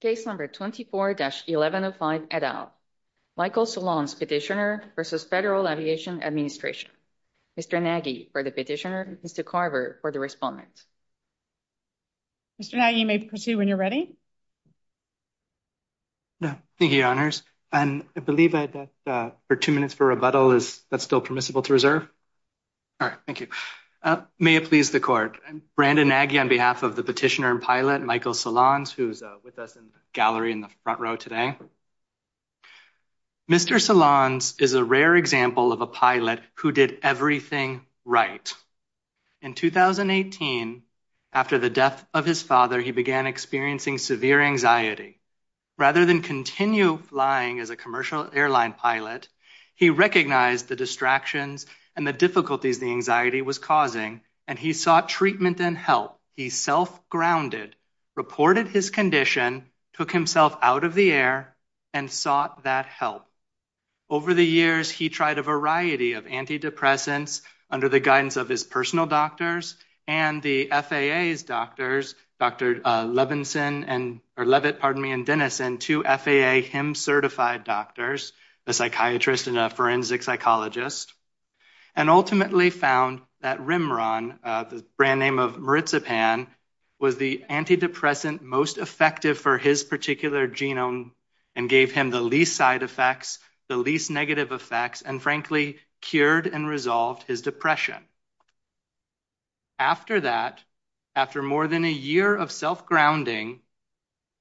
Case number 24-11 of Line et al. Michael Solondz, Petitioner v. Federal Aviation Administration. Mr. Nagy for the Petitioner, Mr. Carver for the Respondent. Mr. Nagy, you may proceed when you're ready. Thank you, Your Honors. I believe I have two minutes for rebuttal. Is that still permissible to reserve? All right, thank you. May it please the Court. I'm Brandon Nagy on behalf of the Petitioner and Pilot Michael Solondz, who's with us in the gallery in the front row today. Mr. Solondz is a rare example of a pilot who did everything right. In 2018, after the death of his father, he began experiencing severe anxiety. Rather than continue flying as a commercial airline pilot, he recognized the distractions and the difficulties the anxiety was causing, and he sought treatment and help. He self-grounded, reported his condition, took himself out of the air, and sought that help. Over the years, he tried a variety of antidepressants under the guidance of his personal doctors and the FAA's doctors, Dr. Leavitt and Dennison, two FAA HIMSS-certified doctors, a psychiatrist and a forensic psychologist, and ultimately found that Rimron, the brand name of maritzapan, was the antidepressant most effective for his particular genome and gave him the least side effects, the least negative effects, and, frankly, cured and resolved his depression. After that, after more than a year of self-grounding,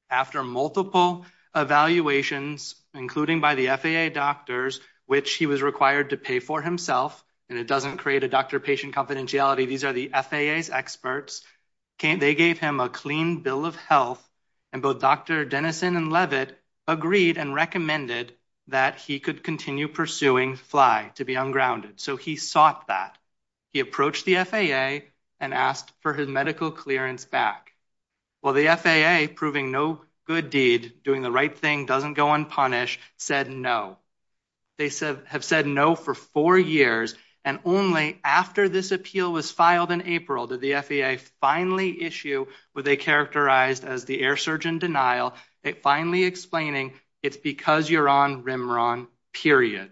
after multiple evaluations, including by the FAA doctors, which he was required to pay for himself, and it doesn't create a doctor-patient confidentiality, these are the FAA's experts, they gave him a clean bill of health, and both Dr. Dennison and Leavitt agreed and recommended that he could continue pursuing FLY to be ungrounded, so he sought that. He approached the FAA and asked for his medical clearance back. Well, the FAA, proving no good deed, doing the right thing, doesn't go unpunished, said no. They have said no for four years, and only after this appeal was filed in April did the FAA finally issue what they characterized as the air surgeon denial, finally explaining it's because you're on remeron, period.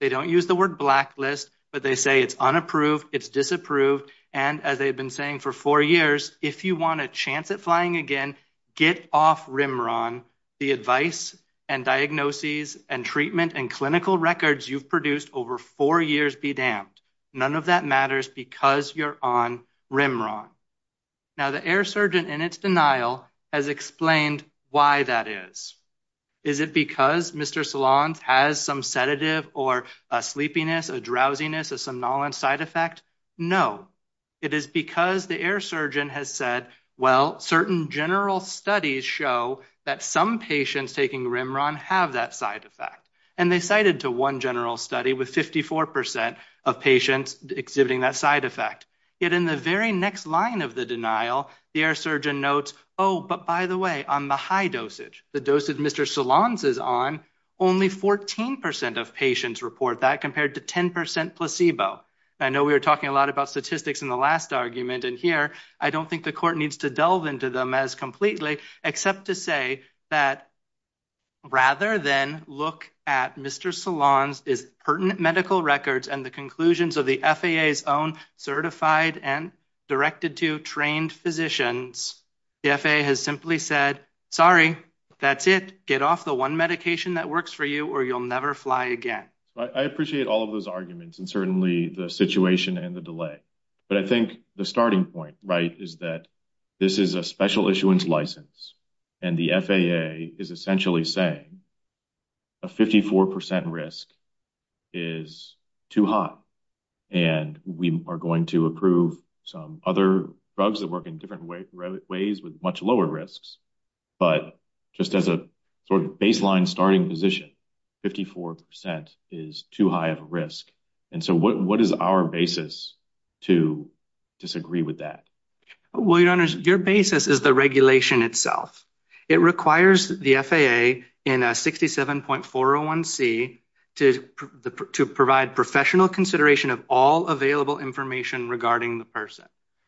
They don't use the word blacklist, but they say it's unapproved, it's disapproved, and as they've been saying for four years, if you want a chance at flying again, get off remeron. The advice and diagnoses and treatment and clinical records you've produced over four years be damned. None of that matters because you're on remeron. Now, the air surgeon in its denial has explained why that is. Is it because Mr. Salon has some sedative or a sleepiness, a drowsiness, a somnolence side effect? No, it is because the air surgeon has said, well, certain general studies show that some patients taking remeron have that side effect, and they cited to one general study with 54% of patients exhibiting that side effect. Yet in the very next line of the denial, the air surgeon notes, oh, but by the way, on the high dosage, the dosage Mr. Salon is on, only 14% of patients report that compared to 10% placebo. I know we were talking a lot about statistics in the last argument, and here I don't think the court needs to delve into them as completely, except to say that rather than look at Mr. Salon's pertinent medical records and the conclusions of the FAA's own certified and directed to trained physicians, the FAA has simply said, sorry, that's it. Get off the one medication that works for you or you'll never fly again. I appreciate all of those arguments and certainly the situation and the delay, but I think the starting point is that this is a special issuance license, and the FAA is essentially saying a 54% risk is too high, and we are going to approve some other drugs that work in different ways with much lower risks, but just as a sort of baseline starting position, 54% is too high of a risk. And so what is our basis to disagree with that? Well, your Honor, your basis is the regulation itself. It requires the FAA in 67.401C to provide professional consideration of all available information regarding the person,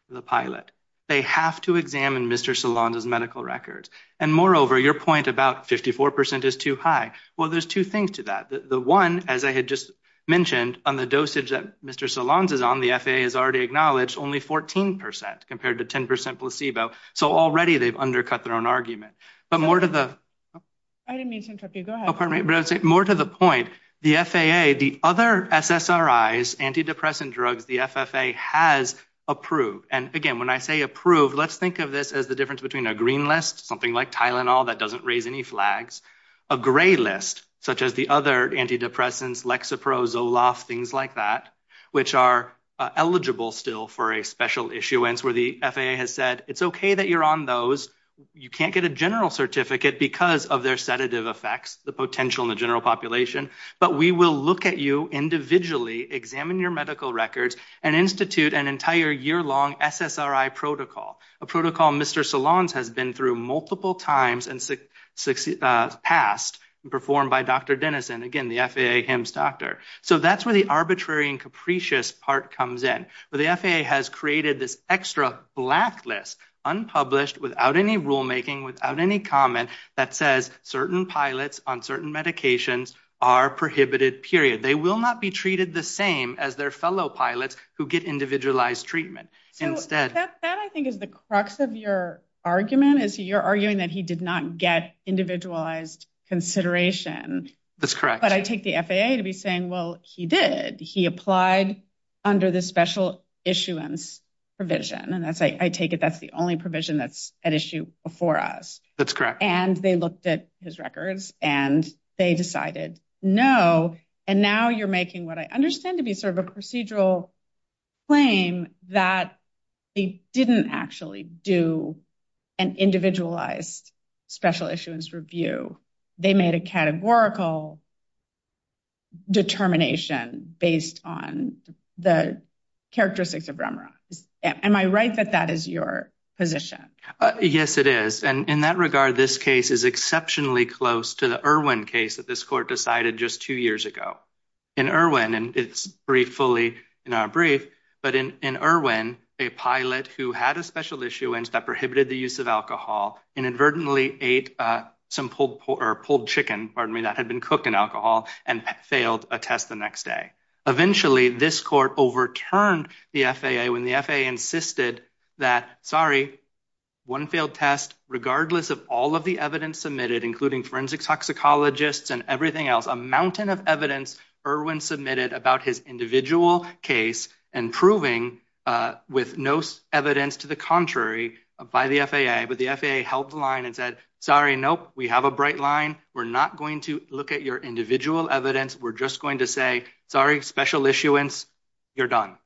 the pilot. They have to examine Mr. Salon's medical records. And moreover, your point about 54% is too high. Well, there's two things to that. The one, as I had just mentioned, on the dosage that Mr. Salon's is on, the FAA has already acknowledged only 14% compared to 10% placebo. So already they've undercut their own argument. But more to the point, the FAA, the other SSRIs, antidepressant drugs, the FFA has approved. And again, when I say approved, let's think of this as the difference between a green list, something like Tylenol that doesn't raise any flags, a gray list such as the other antidepressants, Lexapro, Zoloft, things like that, which are eligible still for a special issuance where the FAA has said it's okay that you're on those. You can't get a general certificate because of their sedative effects, the potential in the general population. But we will look at you individually, examine your medical records, and institute an entire yearlong SSRI protocol, a protocol Mr. Salon's has been through multiple times in the past and performed by Dr. Dennison. And again, the FAA, him, his doctor. So that's where the arbitrary and capricious part comes in. The FAA has created this extra blacklist, unpublished, without any rulemaking, without any comment that says certain pilots on certain medications are prohibited, period. They will not be treated the same as their fellow pilots who get individualized treatment. That, I think, is the crux of your argument is you're arguing that he did not get individualized consideration. That's correct. But I take the FAA to be saying, well, he did. He applied under the special issuance provision. And I take it that's the only provision that's at issue before us. That's correct. And they looked at his records, and they decided, no, and now you're making what I understand to be sort of a procedural claim that they didn't actually do an individualized special issuance review. They made a categorical determination based on the characteristics of Rembrandt. Am I right that that is your position? Yes, it is. And in that regard, this case is exceptionally close to the Irwin case that this court decided just two years ago. In Irwin, and it's brief fully in our brief, but in Irwin, a pilot who had a special issuance that prohibited the use of alcohol inadvertently ate some pulled chicken that had been cooked in alcohol and failed a test the next day. Eventually, this court overturned the FAA when the FAA insisted that, sorry, one failed test, regardless of all of the evidence submitted, including forensic toxicologists and everything else, a mountain of evidence Irwin submitted about his individual case and proving with no evidence to the contrary by the FAA. But the FAA held the line and said, sorry, nope, we have a bright line. We're not going to look at your individual evidence. We're just going to say, sorry, special issuance, you're done.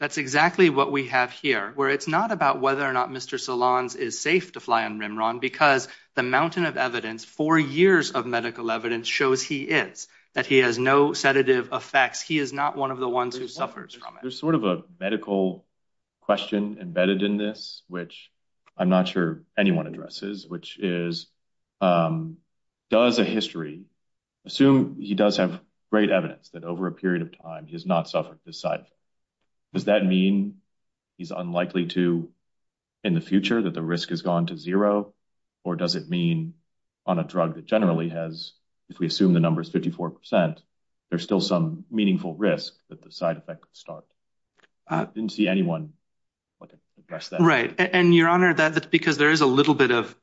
That's exactly what we have here, where it's not about whether or not Mr. Salons is safe to fly on Rimron, because the mountain of evidence, four years of medical evidence, shows he is, that he has no sedative effects. He is not one of the ones who suffers from it. There's sort of a medical question embedded in this, which I'm not sure anyone addresses, which is, does the history assume he does have great evidence that over a period of time he has not suffered this side effect? Does that mean he's unlikely to in the future, that the risk has gone to zero? Or does it mean on a drug that generally has, if we assume the number is 54 percent, there's still some meaningful risk that the side effect starts? I didn't see anyone address that. Right. And, Your Honor, that's because there is a little bit of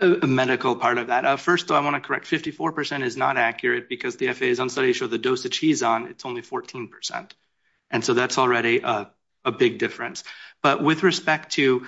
a medical part of that. First, I want to correct, 54 percent is not accurate because the FAA is on study to show the dosage he's on, it's only 14 percent. And so that's already a big difference. But with respect to,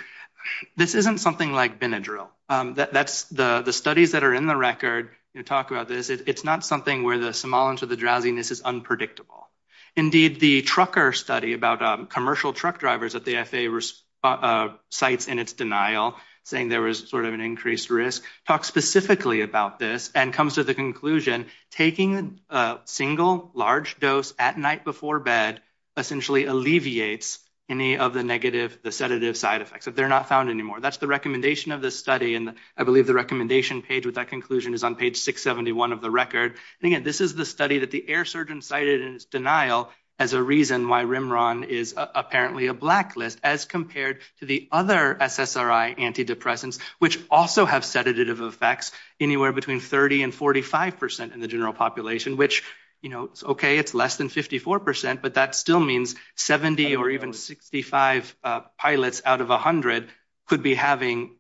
this isn't something like Benadryl. The studies that are in the record talk about this. It's not something where the semolence or the drowsiness is unpredictable. Indeed, the Trucker study about commercial truck drivers that the FAA cites in its denial, saying there was sort of an increased risk, talks specifically about this and comes to the conclusion, taking a single large dose at night before bed essentially alleviates any of the negative, the sedative side effects. But they're not found anymore. That's the recommendation of this study. And I believe the recommendation page with that conclusion is on page 671 of the record. Again, this is the study that the air surgeon cited in its denial as a reason why Rimron is apparently a blacklist, as compared to the other SSRI antidepressants, which also have sedative effects, anywhere between 30 and 45 percent in the general population, which, you know, okay, it's less than 54 percent, but that still means 70 or even 65 pilots out of 100 could be having,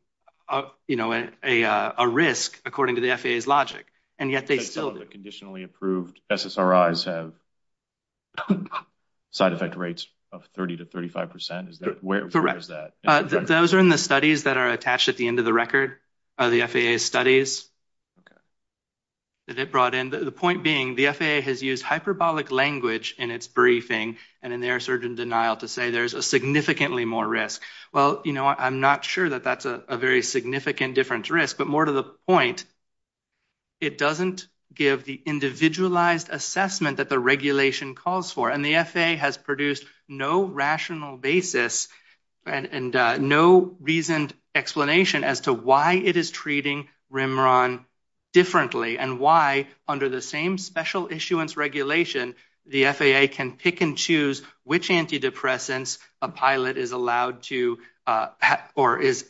you know, a risk, according to the FAA's logic. And yet they still- The conditionally approved SSRIs have side effect rates of 30 to 35 percent? Correct. Where is that? Those are in the studies that are attached at the end of the record, the FAA studies that it brought in. The point being, the FAA has used hyperbolic language in its briefing and in the air surgeon's denial to say there's a significantly more risk. Well, you know, I'm not sure that that's a very significant difference risk, but more to the point, it doesn't give the individualized assessment that the regulation calls for. And the FAA has produced no rational basis and no reasoned explanation as to why it is treating Rimron differently and why, under the same special issuance regulation, the FAA can pick and choose which antidepressants a pilot is allowed to or is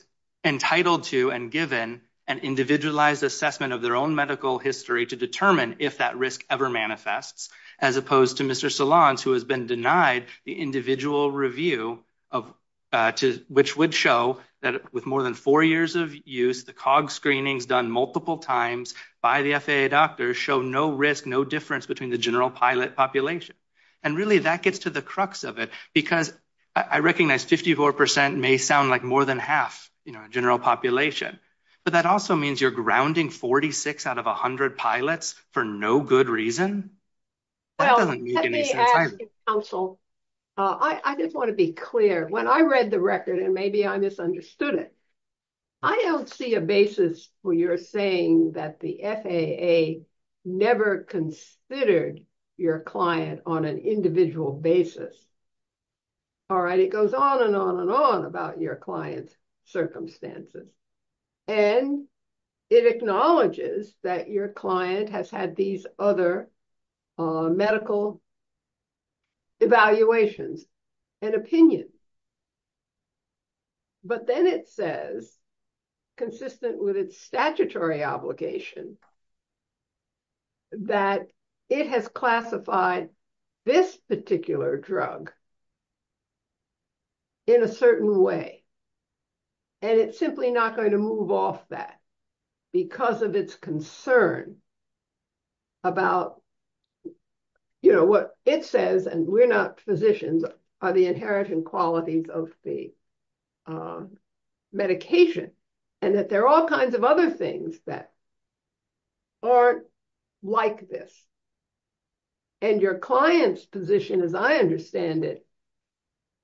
entitled to and given an individualized assessment of their own medical history to determine if that risk ever manifests, as opposed to Mr. Solange, who has been denied the individual review, which would show that with more than four years of use, the cog screenings done multiple times by the FAA doctors show no risk, no difference between the general pilot population. And really, that gets to the crux of it, because I recognize 54% may sound like more than half the general population, but that also means you're grounding 46 out of 100 pilots for no good reason? Well, let me ask you, counsel. I just want to be clear. When I read the record, and maybe I misunderstood it, I don't see a basis for your saying that the FAA never considered your client on an individual basis. All right, it goes on and on and on about your client's circumstances. And it acknowledges that your client has had these other medical evaluations and opinions. But then it says, consistent with its statutory obligation, that it has classified this particular drug in a certain way. And it's simply not going to move off that, because of its concern about what it says, and we're not physicians, are the inherent qualities of the medication, and that there are all kinds of other things that aren't like this. And your client's position, as I understand it,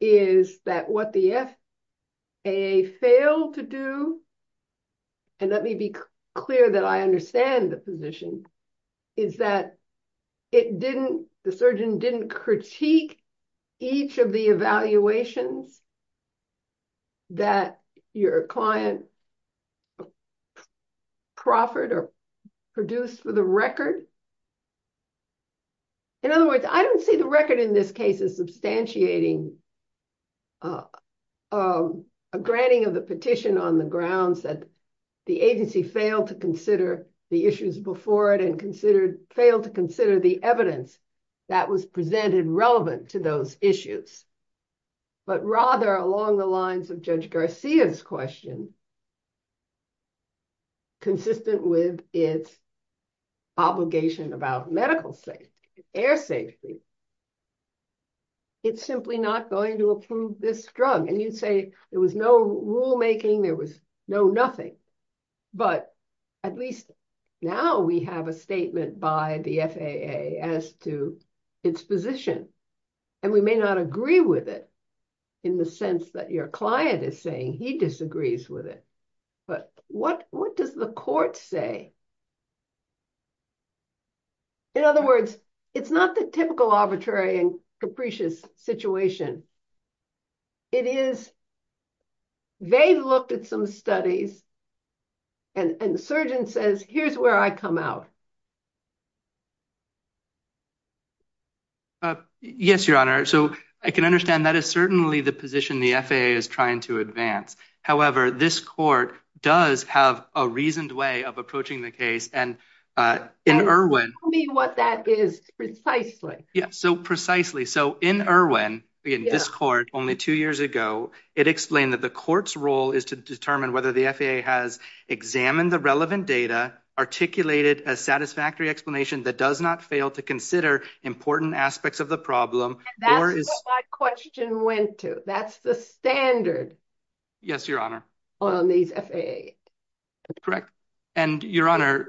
is that what the FAA failed to do, and let me be clear that I understand the position, is that the surgeon didn't critique each of the evaluations that your client proffered or produced for the record. In other words, I don't see the record in this case as substantiating a granting of the petition on the grounds that the agency failed to consider the issues before it, and failed to consider the evidence that was presented relevant to those issues. But rather, along the lines of Judge Garcia's question, consistent with its obligation about medical safety, air safety, it's simply not going to approve this drug. And you'd say, there was no rulemaking, there was no nothing. But at least now we have a statement by the FAA as to its position. And we may not agree with it, in the sense that your client is saying he disagrees with it. But what does the court say? In other words, it's not the typical arbitrary and capricious situation. It is, they looked at some studies and the surgeon says, here's where I come out. Yes, Your Honor. So I can understand that is certainly the position the FAA is trying to advance. However, this court does have a reasoned way of approaching the case. And in Irwin. Tell me what that is precisely. So precisely. So in Irwin, in this court, only two years ago, it explained that the court's role is to determine whether the FAA has examined the relevant data, articulated a satisfactory explanation that does not fail to consider important aspects of the problem. That's what my question went to. That's the standard. Yes, Your Honor. On these FAAs. That's correct. And Your Honor.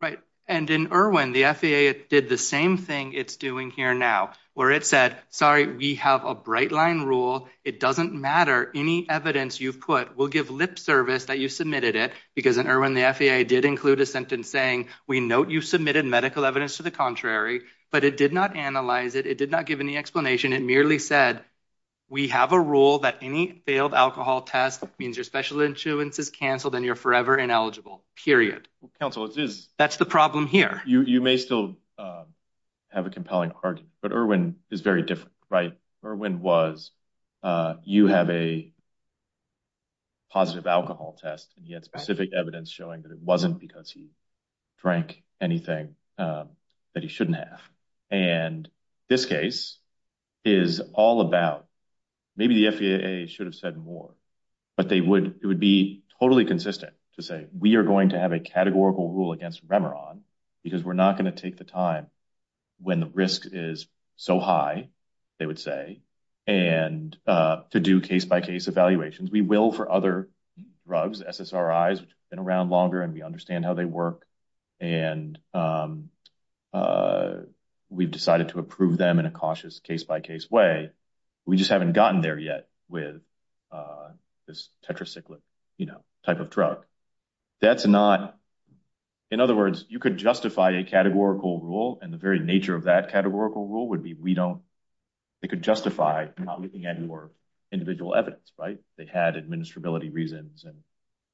Right. And in Irwin, the FAA did the same thing it's doing here now, where it said, sorry, we have a bright line rule. It doesn't matter. Any evidence you put will give lip service that you submitted it. Because in Irwin, the FAA did include a sentence saying, we note you submitted medical evidence to the contrary, but it did not analyze it. It did not give any explanation. It merely said, we have a rule that any failed alcohol test means your special insurance is canceled and you're forever ineligible, period. Counsel, that's the problem here. You may still have a compelling argument, but Irwin is very different. Right. Irwin was, you have a positive alcohol test, yet specific evidence showing that it wasn't because you drank anything that you shouldn't have. And this case is all about maybe the FAA should have said more, but they would, it would be totally consistent to say we are going to have a categorical rule against Remeron because we're not going to take the time when the risk is so high. They would say, and to do case by case evaluations, we will for other drugs, SSRIs, which have been around longer and we understand how they work. And we've decided to approve them in a cautious case by case way. We just haven't gotten there yet with this tetracycline type of drug. That's not, in other words, you could justify a categorical rule. And the very nature of that categorical rule would be, we don't, it could justify not looking at your individual evidence, right? They had administrability reasons and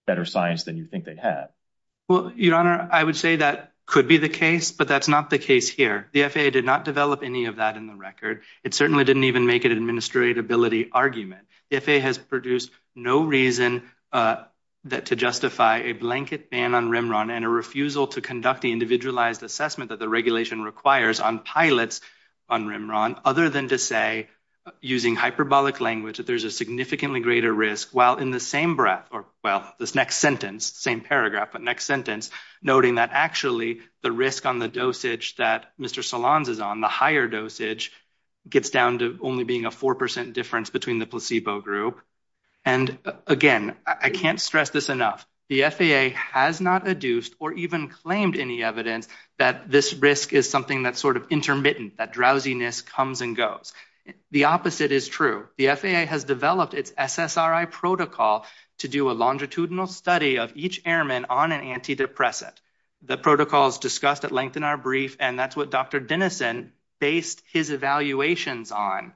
better science than you think they have. Well, Your Honor, I would say that could be the case, but that's not the case here. The FAA did not develop any of that in the record. It certainly didn't even make an administratability argument. FAA has produced no reason to justify a blanket ban on Remeron and a refusal to conduct the individualized assessment that the regulation requires on pilots on Remeron, other than to say, using hyperbolic language, that there's a significantly greater risk. Well, this next sentence, same paragraph, but next sentence, noting that actually the risk on the dosage that Mr. Solanz is on, the higher dosage, gets down to only being a 4% difference between the placebo group. And again, I can't stress this enough. The FAA has not adduced or even claimed any evidence that this risk is something that's sort of intermittent, that drowsiness comes and goes. The opposite is true. The FAA has developed its SSRI protocol to do a longitudinal study of each airman on an antidepressant. The protocol is discussed at length in our brief, and that's what Dr. Denison based his evaluations on.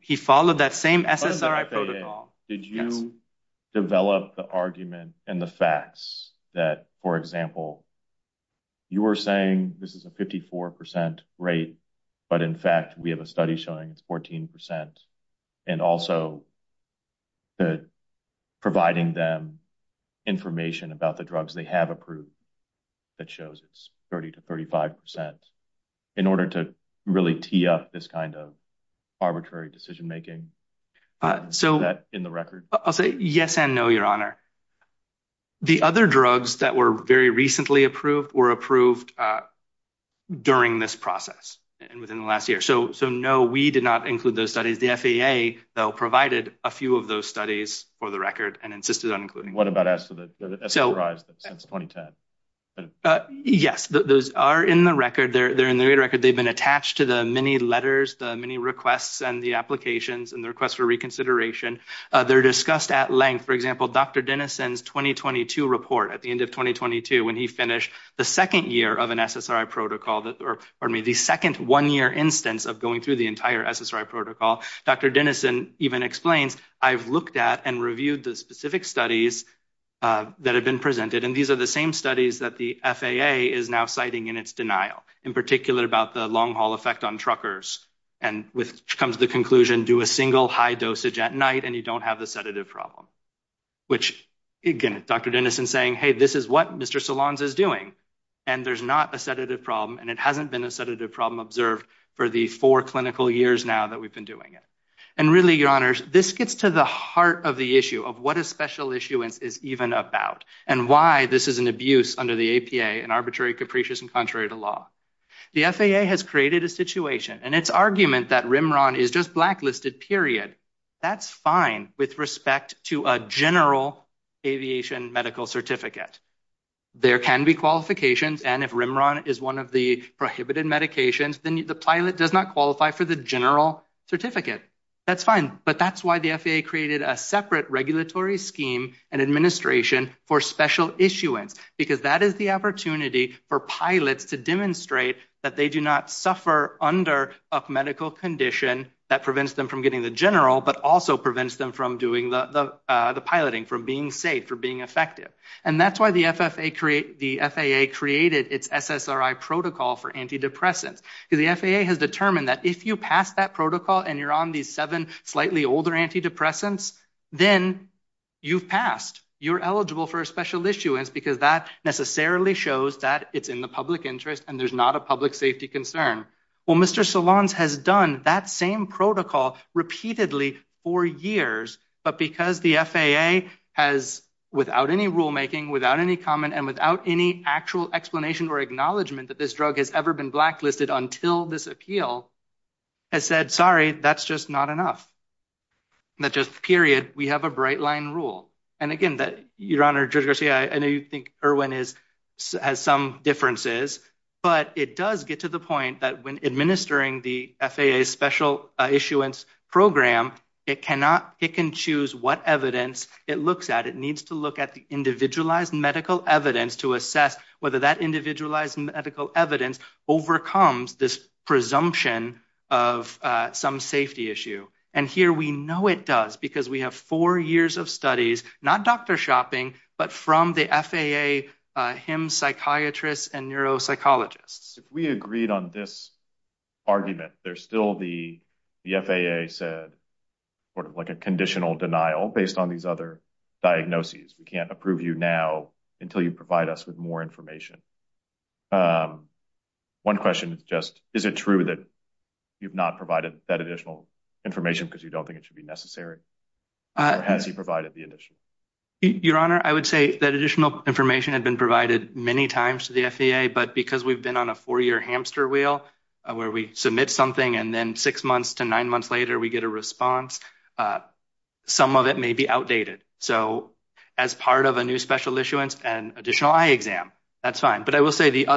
He followed that same SSRI protocol. Did you develop the argument and the facts that, for example, you were saying this is a 54% rate, but in fact we have a study showing 14% and also providing them information about the drugs they have approved that shows it's 30 to 35% in order to really tee up this kind of arbitrary decision making? Is that in the record? I'll say yes and no, Your Honor. The other drugs that were very recently approved were approved during this process and within the last year. So, no, we did not include those studies. The FAA, though, provided a few of those studies for the record and insisted on including them. What about SSRIs since 2010? Yes, those are in the record. They're in the record. They've been attached to the many letters, the many requests and the applications and the requests for reconsideration. They're discussed at length. For example, Dr. Denison's 2022 report at the end of 2022, when he finished the second year of an SSRI protocol, or the second one-year instance of going through the entire SSRI protocol, Dr. Denison even explained, I've looked at and reviewed the specific studies that have been presented, and these are the same studies that the FAA is now citing in its denial, in particular about the long-haul effect on truckers, and which comes to the conclusion, do a single high dosage at night and you don't have the sedative problem. Which, again, Dr. Denison saying, hey, this is what Mr. Solanz is doing, and there's not a sedative problem, and it hasn't been a sedative problem observed for the four clinical years now that we've been doing it. And really, your honors, this gets to the heart of the issue of what a special issuance is even about, and why this is an abuse under the APA and arbitrary, capricious, and contrary to law. The FAA has created a situation, and its argument that Rimron is just blacklisted, period, that's fine with respect to a general aviation medical certificate. There can be qualifications, and if Rimron is one of the prohibited medications, then the pilot does not qualify for the general certificate. That's fine, but that's why the FAA created a separate regulatory scheme and administration for special issuance, because that is the opportunity for pilots to demonstrate that they do not suffer under a medical condition that prevents them from getting the general, but also prevents them from doing the piloting, from being safe, from being effective. And that's why the FAA created its SSRI protocol for antidepressants. The FAA has determined that if you pass that protocol, and you're on these seven slightly older antidepressants, then you've passed. You're eligible for a special issuance, because that necessarily shows that it's in the public interest, and there's not a public safety concern. Well, Mr. Solans has done that same protocol repeatedly for years, but because the FAA has, without any rulemaking, without any comment, and without any actual explanation or acknowledgement that this drug has ever been blacklisted until this appeal, has said, sorry, that's just not enough. That's just period. We have a bright line rule. And again, Your Honor, Judge Garcia, I know you think Irwin has some differences, but it does get to the point that when administering the FAA special issuance program, it can choose what evidence it looks at. It needs to look at the individualized medical evidence to assess whether that individualized medical evidence overcomes this presumption of some safety issue. And here we know it does, because we have four years of studies, not doctor shopping, but from the FAA, him, psychiatrists, and neuropsychologists. We agreed on this argument. There's still the FAA's sort of like a conditional denial based on these other diagnoses. We can't approve you now until you provide us with more information. One question, just, is it true that you've not provided that additional information because you don't think it should be necessary? Has he provided the initial? Your Honor, I would say that additional information had been provided many times to the FAA, but because we've been on a four year hamster wheel, where we submit something and then six months to nine months later, we get a response. Some of it may be outdated. So, as part of a new special issuance and additional eye exam, that's fine. But I will say the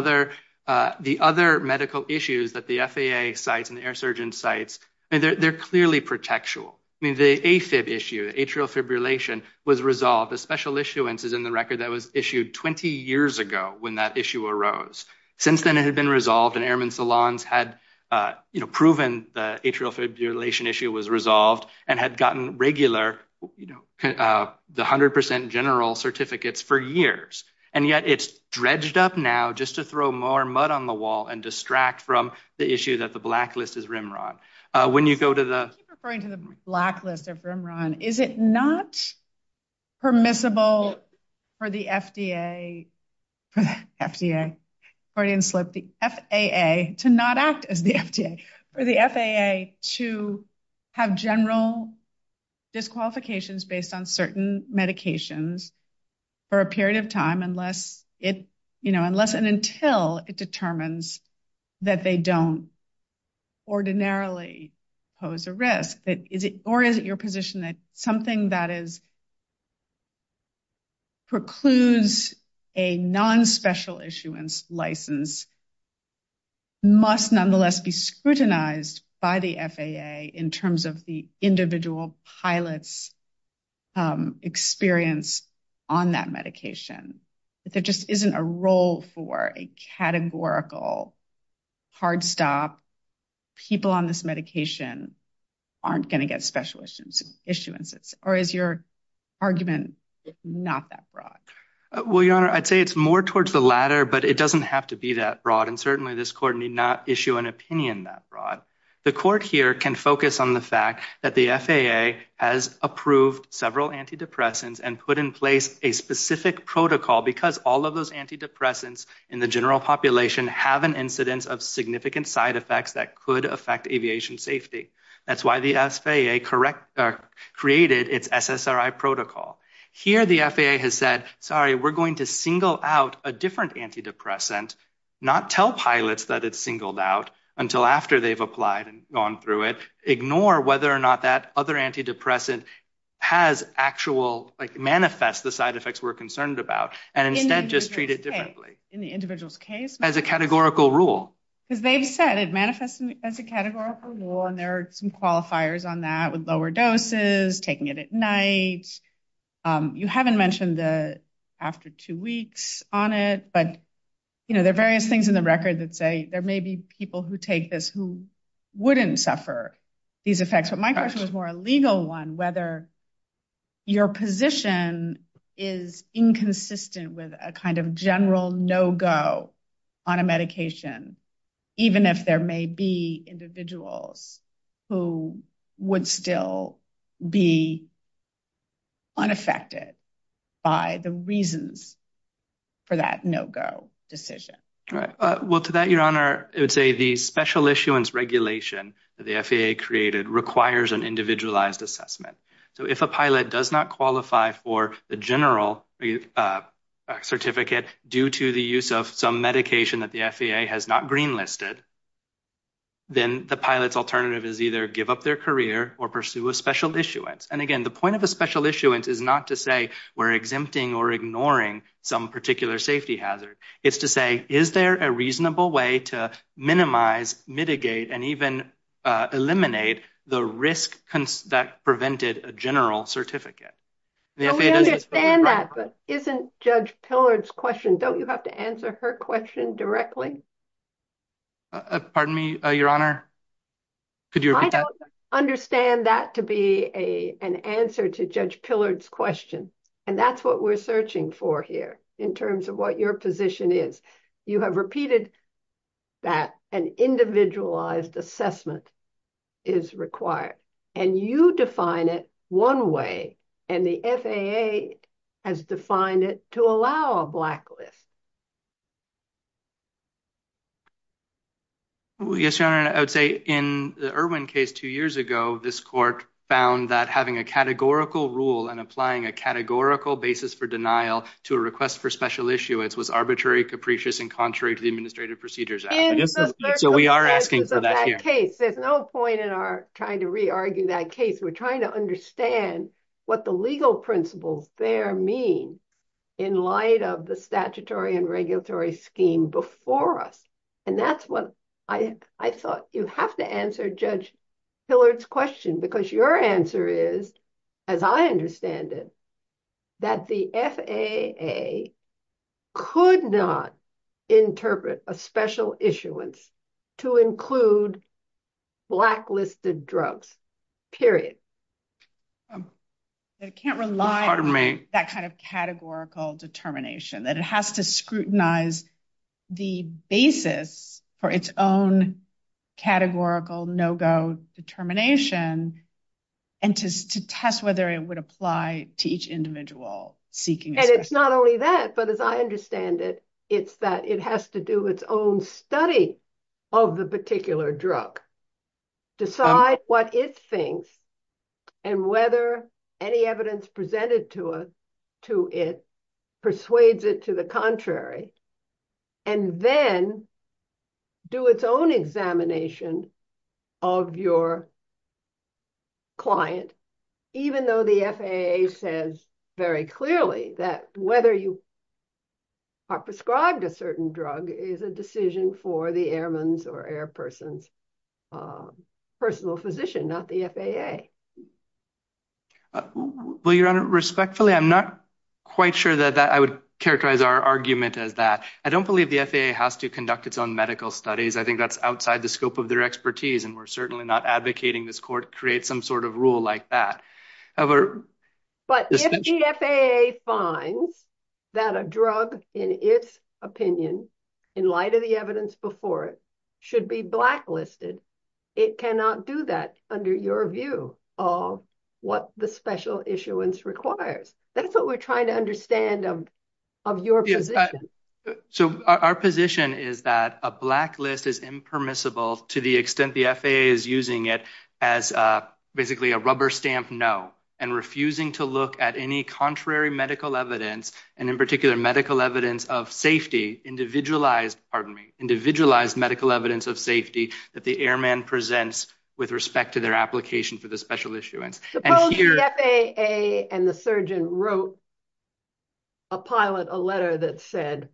other medical issues that the FAA cites and the air surgeon cites, they're clearly protectual. The AFib issue, atrial fibrillation, was resolved. The special issuance is in the record that was issued 20 years ago when that issue arose. Since then, it had been resolved and Airmen Salons had, you know, proven the atrial fibrillation issue was resolved and had gotten regular, you know, the 100% general certificates for years. And yet, it's dredged up now just to throw more mud on the wall and distract from the issue that the blacklist is RIMRON. When you go to the… You're referring to the blacklist of RIMRON. Is it not permissible for the FAA to have general disqualifications based on certain medications for a period of time unless and until it determines that they don't ordinarily pose a risk? Or is it your position that something that precludes a non-special issuance license must nonetheless be scrutinized by the FAA in terms of the individual pilot's experience on that medication? If there just isn't a role for a categorical hard stop, people on this medication aren't going to get special issuances. Or is your argument not that broad? Well, Your Honor, I'd say it's more towards the latter, but it doesn't have to be that broad. And certainly, this court need not issue an opinion that broad. The court here can focus on the fact that the FAA has approved several antidepressants and put in place a specific protocol because all of those antidepressants in the general population have an incidence of significant side effects that could affect aviation safety. That's why the FAA created its SSRI protocol. Here, the FAA has said, sorry, we're going to single out a different antidepressant, not tell pilots that it's singled out until after they've applied and gone through it, ignore whether or not that other antidepressant has actual, like manifests the side effects we're concerned about, and instead just treat it differently. In the individual's case? As a categorical rule. As they've said, it manifests as a categorical rule, and there are some qualifiers on that with lower doses, taking it at night. You haven't mentioned the after two weeks on it, but there are various things in the record that say there may be people who take this who wouldn't suffer these effects. My question is more a legal one, whether your position is inconsistent with a kind of general no-go on a medication, even if there may be individuals who would still be unaffected by the reasons for that no-go decision. Well, to that, Your Honor, I would say the special issuance regulation that the FAA created requires an individualized assessment. So, if a pilot does not qualify for the general certificate due to the use of some medication that the FAA has not green listed, then the pilot's alternative is either give up their career or pursue a special issuance. And again, the point of the special issuance is not to say we're exempting or ignoring some particular safety hazard. It's to say, is there a reasonable way to minimize, mitigate, and even eliminate the risk that prevented a general certificate? I understand that, but isn't Judge Pillard's question, don't you have to answer her question directly? Pardon me, Your Honor? I don't understand that to be an answer to Judge Pillard's question, and that's what we're searching for here in terms of what your position is. You have repeated that an individualized assessment is required, and you define it one way, and the FAA has defined it to allow a blacklist. Yes, Your Honor, I would say in the Irwin case two years ago, this court found that having a categorical rule and applying a categorical basis for denial to a request for special issuance was arbitrary, capricious, and contrary to the administrative procedures. There's no point in our trying to re-argue that case. We're trying to understand what the legal principles there mean in light of the statutory and regulatory scheme before us. I thought you have to answer Judge Pillard's question, because your answer is, as I understand it, that the FAA could not interpret a special issuance to include blacklisted drugs, period. That it can't rely on that kind of categorical determination, that it has to scrutinize the basis for its own categorical no-go determination, and to test whether it would apply to each individual seeking it. And it's not only that, but as I understand it, it's that it has to do its own study of the particular drug, decide what it thinks, and whether any evidence presented to it persuades it to the contrary, and then do its own examination of your client, even though the FAA says very clearly that whether you are prescribed a certain drug is a decision for the airman's or airperson's personal physician, not the FAA. Well, Your Honor, respectfully, I'm not quite sure that I would characterize our argument as that. I don't believe the FAA has to conduct its own medical studies. I think that's outside the scope of their expertise, and we're certainly not advocating this court create some sort of rule like that. But if the FAA finds that a drug, in its opinion, in light of the evidence before it, should be blacklisted, it cannot do that under your view of what the special issuance requires. That's what we're trying to understand of your position. So our position is that a blacklist is impermissible to the extent the FAA is using it as basically a rubber stamp no, and refusing to look at any contrary medical evidence, and in particular medical evidence of safety, individualized medical evidence of safety that the airman presents with respect to their application for the special issuance. Suppose the FAA and the surgeon wrote a pilot, a letter that said,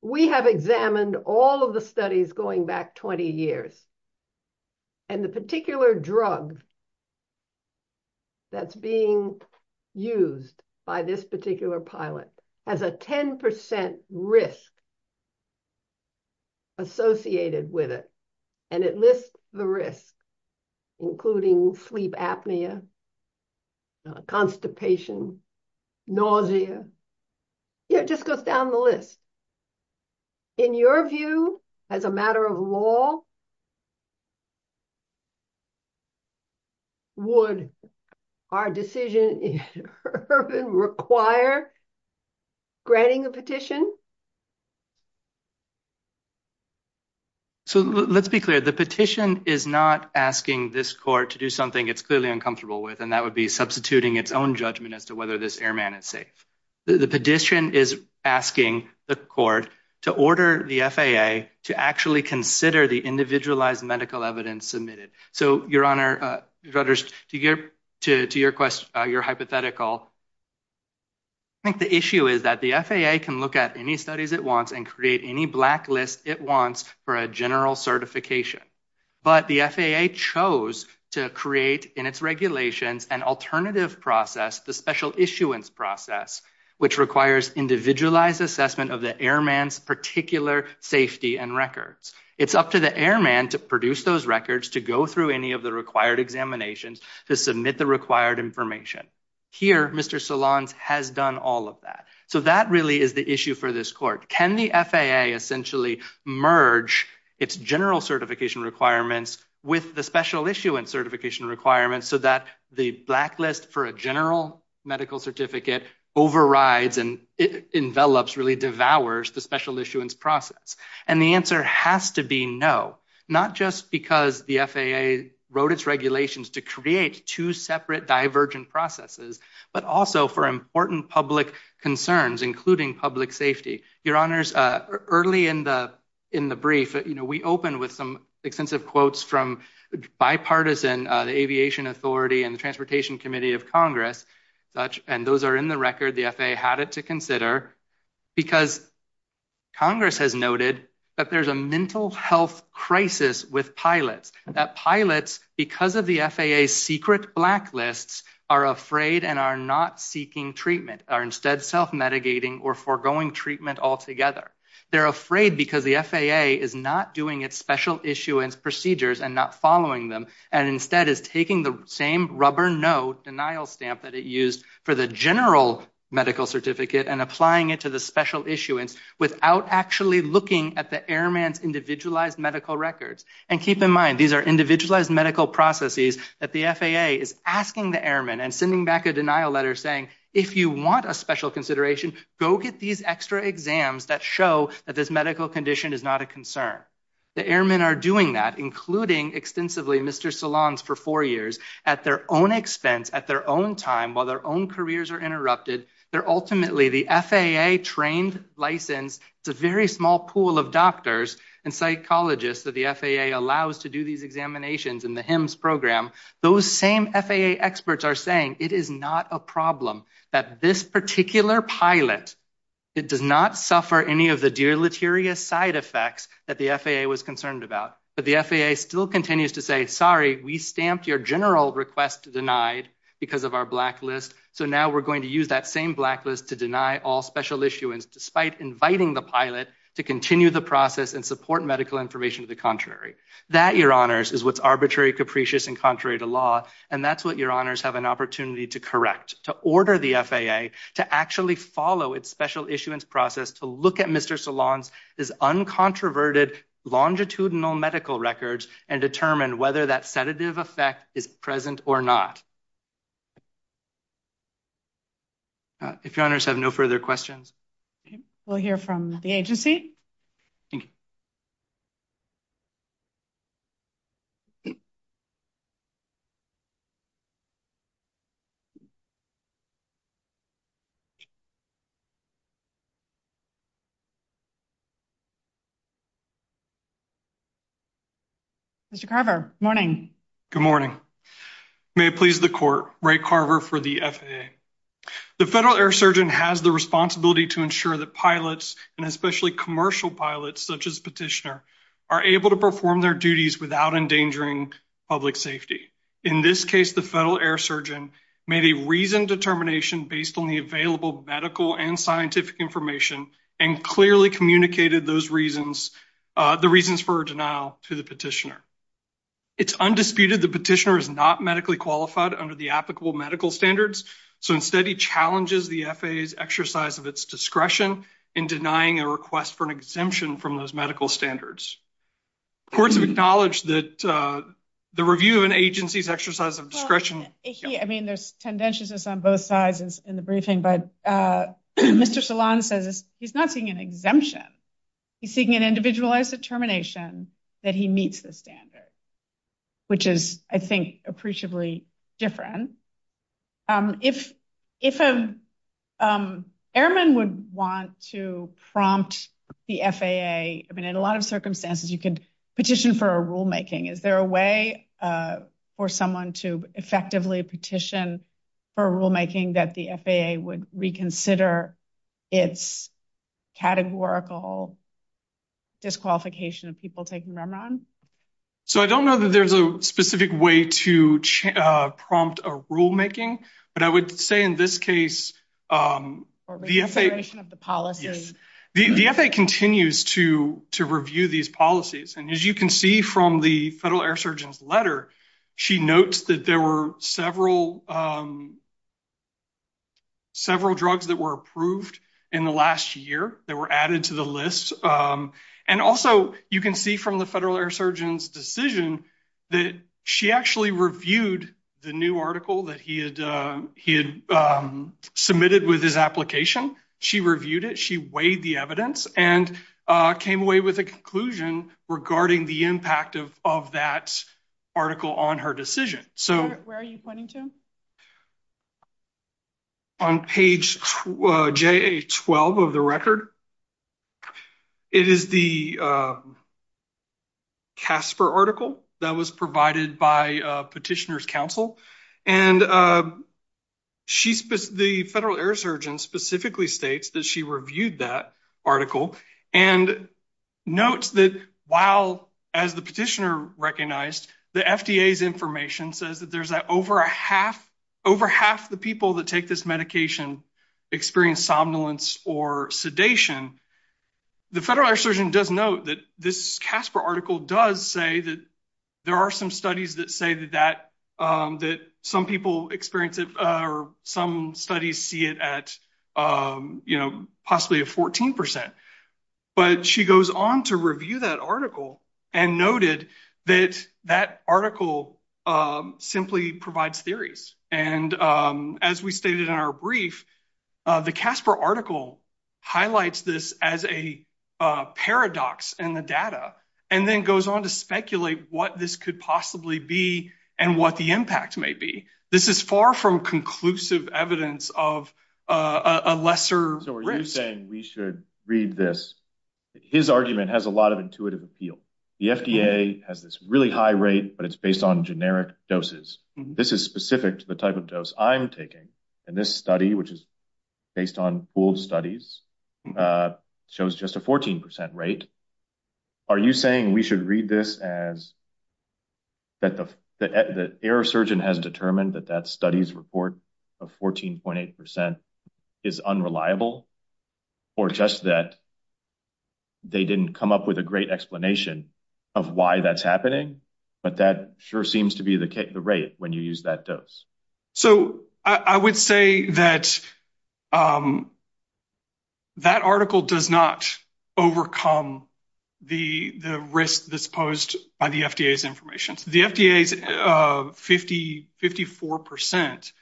we have examined all of the studies going back 20 years, and the particular drug that's being used by this particular pilot has a 10% risk associated with it. And it lists the risks, including sleep apnea, constipation, nausea. It just goes down the list. In your view, as a matter of law, would our decision in urban require granting a petition? So let's be clear. The petition is not asking this court to do something it's clearly uncomfortable with, and that would be substituting its own judgment as to whether this airman is safe. The petition is asking the court to order the FAA to actually consider the individualized medical evidence submitted. So, Your Honor, to your hypothetical, I think the issue is that the FAA can look at any studies it wants and create any blacklist it wants for a general certification. But the FAA chose to create in its regulations an alternative process, the special issuance process, which requires individualized assessment of the airman's particular safety and records. It's up to the airman to produce those records, to go through any of the required examinations, to submit the required information. Here, Mr. Solans has done all of that. So that really is the issue for this court. Can the FAA essentially merge its general certification requirements with the special issuance certification requirements so that the blacklist for a general medical certificate overrides and envelops, really devours, the special issuance process? And the answer has to be no, not just because the FAA wrote its regulations to create two separate divergent processes, but also for important public concerns, including public safety. Your Honors, early in the brief, we opened with some extensive quotes from bipartisan, the Aviation Authority and the Transportation Committee of Congress. And those are in the record. The FAA had it to consider. Because Congress has noted that there's a mental health crisis with pilots, that pilots, because of the FAA's secret blacklists, are afraid and are not seeking treatment, are instead self-mitigating or foregoing treatment altogether. They're afraid because the FAA is not doing its special issuance procedures and not following them, and instead is taking the same rubber no denial stamp that it used for the general medical certificate and applying it to the special issuance without actually looking at the airman's individualized medical records. And keep in mind, these are individualized medical processes that the FAA is asking the airman and sending back a denial letter saying, if you want a special consideration, go get these extra exams that show that this medical condition is not a concern. The airmen are doing that, including extensively Mr. Solange for four years at their own expense, at their own time, while their own careers are interrupted. They're ultimately the FAA trained, licensed, it's a very small pool of doctors and psychologists that the FAA allows to do these examinations in the HIMSS program. Those same FAA experts are saying it is not a problem that this particular pilot, it does not suffer any of the deleterious side effects that the FAA was concerned about. But the FAA still continues to say, sorry, we stamped your general request denied because of our blacklist, so now we're going to use that same blacklist to deny all special issuance despite inviting the pilot to continue the process and support medical information to the contrary. That, your honors, is what's arbitrary, capricious, and contrary to law, and that's what your honors have an opportunity to correct, to order the FAA to actually follow its special issuance process to look at Mr. Solange's uncontroverted longitudinal medical records and determine whether that sedative effect is present or not. If your honors have no further questions. We'll hear from the agency. Mr. Carver, good morning. Good morning. May it please the court, Ray Carver for the FAA. The Federal Air Surgeon has the responsibility to ensure that pilots, and especially commercial pilots such as petitioner, are able to perform their duties without endangering public safety. In this case, the Federal Air Surgeon made a reasoned determination based on the available medical and scientific information and clearly communicated those reasons, the reasons for denial to the petitioner. It's undisputed the petitioner is not medically qualified under the applicable medical standards, so instead he challenges the FAA's exercise of its discretion in denying a request for an exemption from those medical standards. Of course, we acknowledge that the review of an agency's exercise of discretion. I mean, there's tendencies on both sides in the briefing, but Mr. Solange says he's not seeking an exemption. He's seeking an individualized determination that he meets the standards, which is, I think, appreciably different. If an airman would want to prompt the FAA, I mean, in a lot of circumstances you could petition for a rulemaking. Is there a way for someone to effectively petition for a rulemaking that the FAA would reconsider its categorical disqualification of people taking Rembrandt? So I don't know that there's a specific way to prompt a rulemaking, but I would say in this case the FAA continues to review these policies. And as you can see from the Federal Air Surgeon's letter, she notes that there were several drugs that were approved in the last year that were added to the list. And also you can see from the Federal Air Surgeon's decision that she actually reviewed the new article that he had submitted with his application. She reviewed it, she weighed the evidence, and came away with a conclusion regarding the impact of that article on her decision. Where are you pointing to? On page JA-12 of the record, it is the CASPER article that was provided by Petitioner's Counsel. And the Federal Air Surgeon specifically states that she reviewed that article. And note that while, as the Petitioner recognized, the FDA's information says that there's over half the people that take this medication experience somnolence or sedation, the Federal Air Surgeon does note that this CASPER article does say that there are some studies that say that some people experience it or some studies see it at possibly a 14 percent. But she goes on to review that article and noted that that article simply provides theories. And as we stated in our brief, the CASPER article highlights this as a paradox in the data and then goes on to speculate what this could possibly be and what the impact may be. This is far from conclusive evidence of a lesser risk. So are you saying we should read this? His argument has a lot of intuitive appeal. The FDA has this really high rate, but it's based on generic doses. This is specific to the type of dose I'm taking. And this study, which is based on old studies, shows just a 14 percent rate. Are you saying we should read this as that the air surgeon has determined that that study's report of 14.8 percent is unreliable? Or just that they didn't come up with a great explanation of why that's happening? But that sure seems to be the rate when you use that dose. So I would say that that article does not overcome the risk that's posed by the FDA's information. The FDA's 54 percent.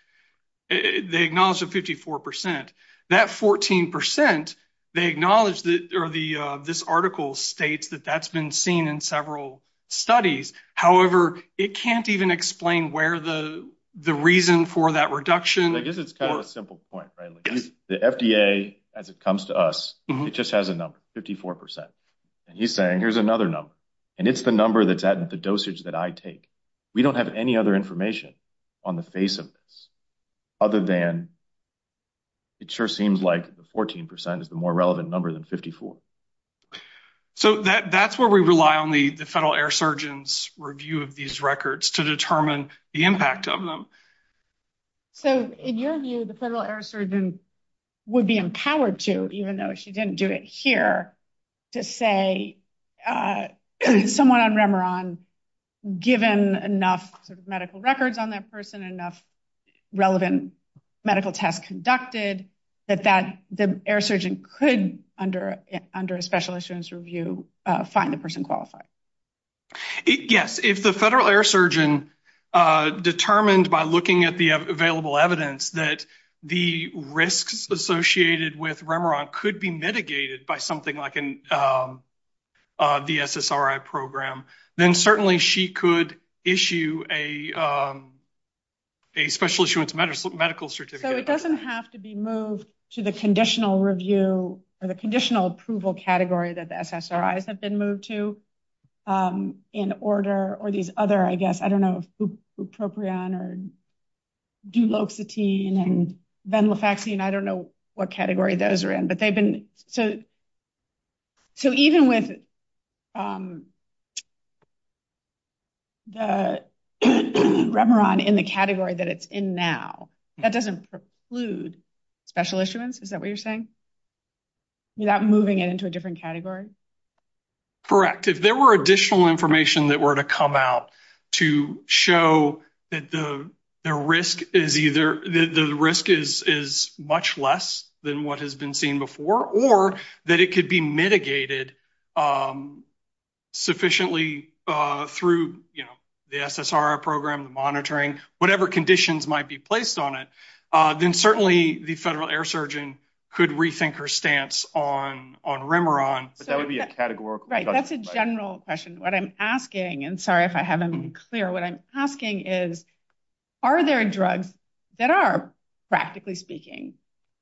They acknowledge the 54 percent. That 14 percent, they acknowledge or this article states that that's been seen in several studies. However, it can't even explain where the reason for that reduction is. This is a simple point. The FDA, as it comes to us, it just has a number, 54 percent. And he's saying here's another number. And it's the number that's at the dosage that I take. We don't have any other information on the face of this other than it sure seems like the 14 percent is the more relevant number than 54. So that's where we rely on the Federal Air Surgeon's review of these records to determine the impact of them. So in your view, the Federal Air Surgeon would be empowered to, even though she didn't do it here, to say someone on Remeron, given enough medical records on that person, enough relevant medical tests conducted, that the air surgeon could, under a special insurance review, find the person qualified? Yes. If the Federal Air Surgeon determined by looking at the available evidence that the risks associated with Remeron could be mitigated by something like the SSRI program, then certainly she could issue a special insurance medical certificate. So it doesn't have to be moved to the conditional review or the conditional approval category that the SSRIs have been moved to in order, or these other, I guess, I don't know, bupropion or duloxetine and venlafaxine. I don't know what category those are in. So even with the Remeron in the category that it's in now, that doesn't preclude special insurance? Is that what you're saying? You're not moving it into a different category? Correct. If there were additional information that were to come out to show that the risk is much less than what has been seen before, or that it could be mitigated sufficiently through the SSRI program, the monitoring, whatever conditions might be placed on it, then certainly the Federal Air Surgeon could rethink her stance on Remeron. That would be a categorical question. That's a general question. What I'm asking, and sorry if I haven't been clear, what I'm asking is, are there drugs that are, practically speaking,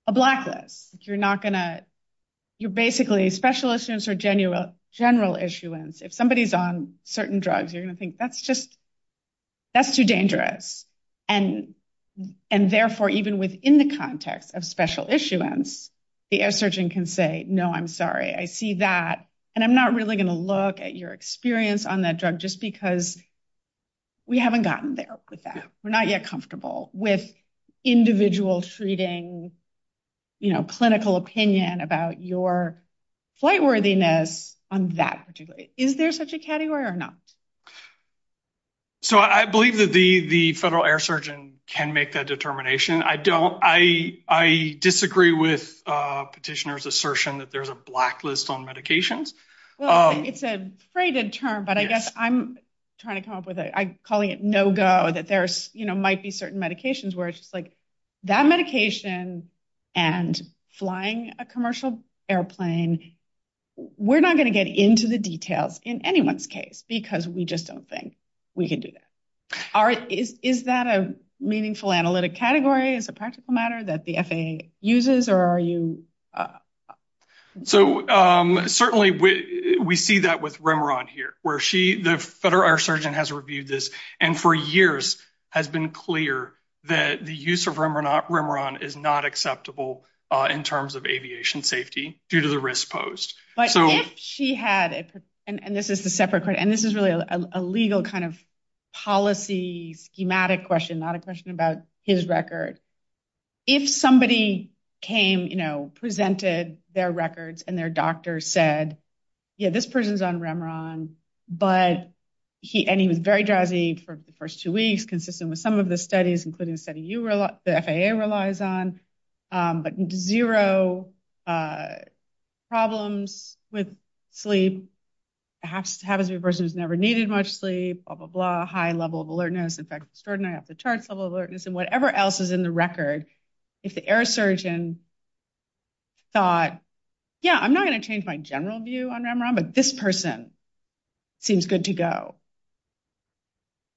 a blacklist? You're not going to, you're basically, special issuance or general issuance. If somebody's on certain drugs, you're going to think that's just, that's too dangerous. And therefore, even within the context of special issuance, the air surgeon can say, no, I'm sorry. I see that. And I'm not really going to look at your experience on that drug just because we haven't gotten there with that. We're not yet comfortable with individual treating, you know, clinical opinion about your flight worthiness on that particular drug. Is there such a category or not? So I believe that the Federal Air Surgeon can make that determination. I don't, I disagree with Petitioner's assertion that there's a blacklist on medications. Well, it's a freighted term, but I guess I'm trying to come up with it. I'm calling it no-go, that there might be certain medications where it's like, that medication and flying a commercial airplane, we're not going to get into the details in anyone's case because we just don't think we can do that. Is that a meaningful analytic category as a practical matter that the FAA uses or are you? So certainly we see that with Remeron here, where she, the Federal Air Surgeon has reviewed this, and for years has been clear that the use of Remeron is not acceptable in terms of aviation safety due to the risk posed. But if she had, and this is a separate question, and this is really a legal kind of policy schematic question, not a question about his record. If somebody came, you know, presented their records and their doctor said, yeah, this person's on Remeron, but he was very drowsy for the first two weeks, consistent with some of the studies, including the study the FAA relies on, but zero problems with sleep, perhaps the person has never needed much sleep, blah, blah, blah, a high level of alertness, in fact, extraordinary at the charts level of alertness and whatever else is in the record. If the air surgeon thought, yeah, I'm not going to change my general view on Remeron, but this person seems good to go.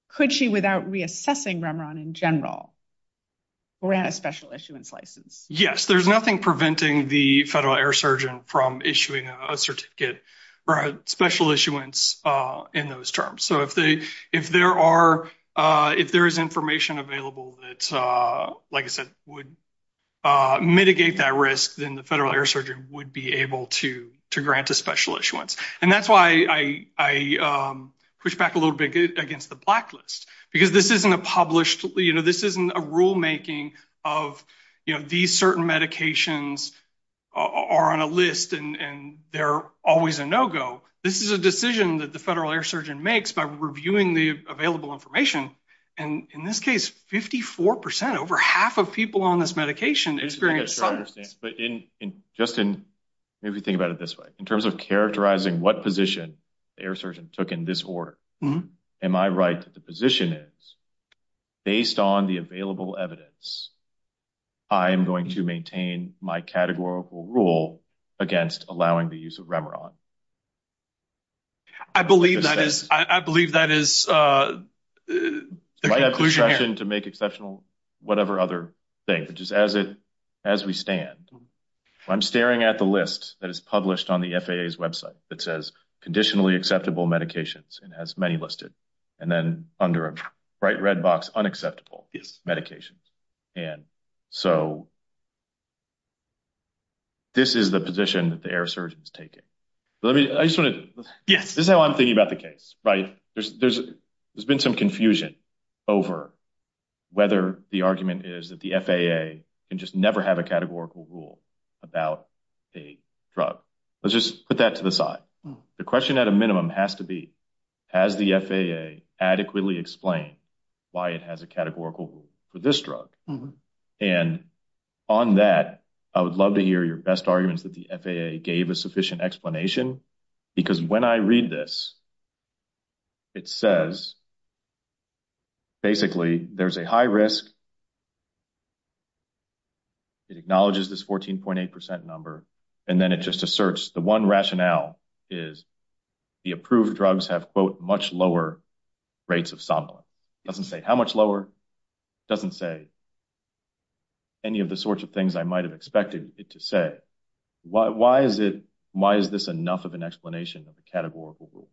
Could she, without reassessing Remeron in general, grant a special issuance license? Yes, there's nothing preventing the Federal Air Surgeon from issuing a certificate or a special issuance in those terms. So if there are, if there is information available that, like I said, would mitigate that risk, then the Federal Air Surgeon would be able to grant a special issuance. And that's why I push back a little bit against the blacklist, because this isn't a published, you know, this isn't a rulemaking of, you know, these certain medications are on a list and they're always a no-go. This is a decision that the Federal Air Surgeon makes by reviewing the available information. And in this case, 54 percent, over half of people on this medication experienced... But in, Justin, maybe think about it this way. In terms of characterizing what position the air surgeon took in this order, am I right that the position is, based on the available evidence, I am going to maintain my categorical rule against allowing the use of Remeron? I believe that is, I believe that is the conclusion. To make exceptional whatever other thing, just as it, as we stand. I'm staring at the list that is published on the FAA's website that says, conditionally acceptable medications and has many listed. And then under a bright red box, unacceptable medications. And so this is the position that the air surgeon is taking. Let me, I just want to, yes, this is how I'm thinking about the case, right? There's been some confusion over whether the argument is that the FAA can just never have a categorical rule about a drug. Let's just put that to the side. The question at a minimum has to be, has the FAA adequately explained why it has a categorical rule for this drug? And on that, I would love to hear your best arguments that the FAA gave a sufficient explanation. Because when I read this, it says, basically, there's a high risk. It acknowledges this 14.8% number. And then it just asserts the one rationale is the approved drugs have, quote, much lower rates of. Doesn't say how much lower doesn't say. Any of the sorts of things I might have expected it to say, why is it? Why is this enough of an explanation of the categorical rule?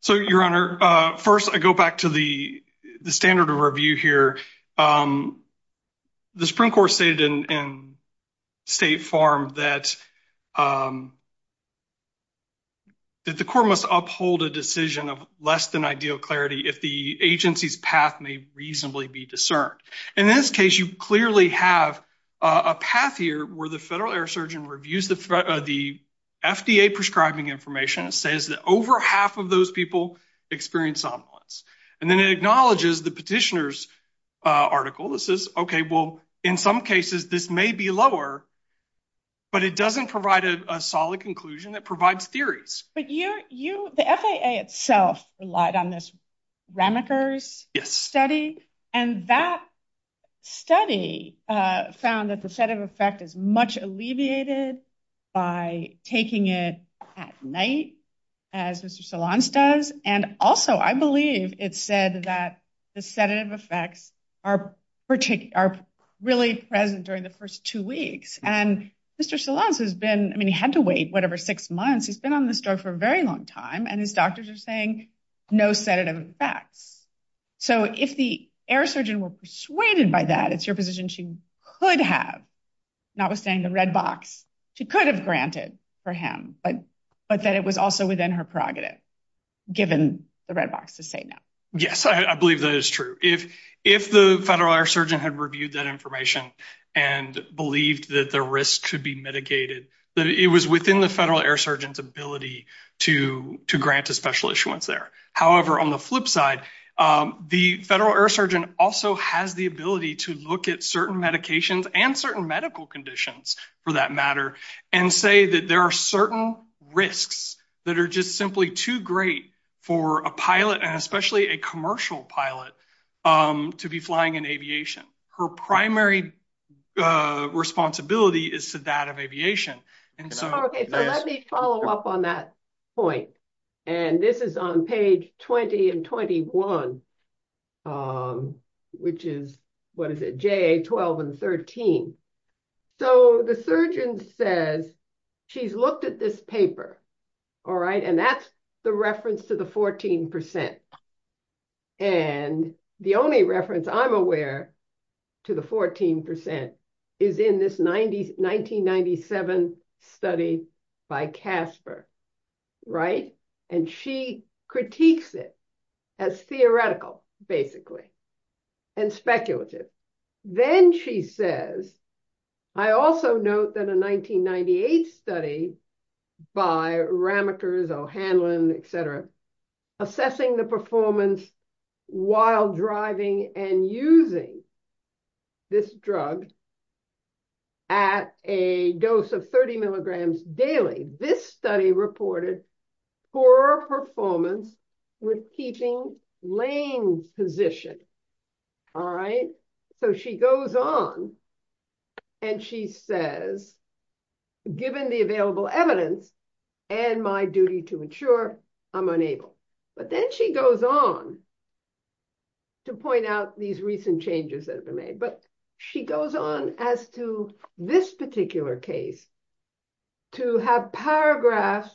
So, your Honor, first, I go back to the standard of review here. The Supreme Court stated in State Farm that the court must uphold a decision of less than ideal clarity if the agency's path may reasonably be discerned. In this case, you clearly have a path here where the federal air surgeon reviews the FDA prescribing information. It says that over half of those people experience somnolence. And then it acknowledges the petitioner's article. It says, okay, well, in some cases, this may be lower, but it doesn't provide a solid conclusion. It provides theories. The FAA itself relied on this study, and that study found that the set of effect is much alleviated by taking it at night as Mr. Solanas does. And also, I believe it said that the set of effects are really present during the first two weeks. And Mr. Solanas has been, I mean, he had to wait, whatever, six months. He's been on this drug for a very long time, and his doctors are saying no set of effects. So, if the air surgeon were persuaded by that, it's your position she could have, notwithstanding the red box, she could have granted for him, but that it was also within her prerogative, given the red box to say no. Yes, I believe that is true. If the federal air surgeon had reviewed that information and believed that the risk could be mitigated, it was within the federal air surgeon's ability to grant a special issuance there. However, on the flip side, the federal air surgeon also has the ability to look at certain medications and certain medical conditions, for that matter, and say that there are certain risks that are just simply too great for a pilot, especially a commercial pilot, to be flying in aviation. Her primary responsibility is to that of aviation. Okay, so let me follow up on that point. And this is on page 20 and 21, which is, what is it, JA 12 and 13. So, the surgeon says she's looked at this paper, all right, and that's the reference to the 14%. And the only reference I'm aware to the 14% is in this 1997 study by Casper, right? And she critiques it as theoretical, basically, and speculative. Then she says, I also note that a 1998 study by Ramakers, O'Hanlon, et cetera, assessing the performance while driving and using this drug at a dose of 30 milligrams daily. This study reported poor performance with keeping lane position, all right? So, she goes on and she says, given the available evidence and my duty to ensure, I'm unable. But then she goes on to point out these recent changes that were made. But she goes on as to this particular case to have paragraphs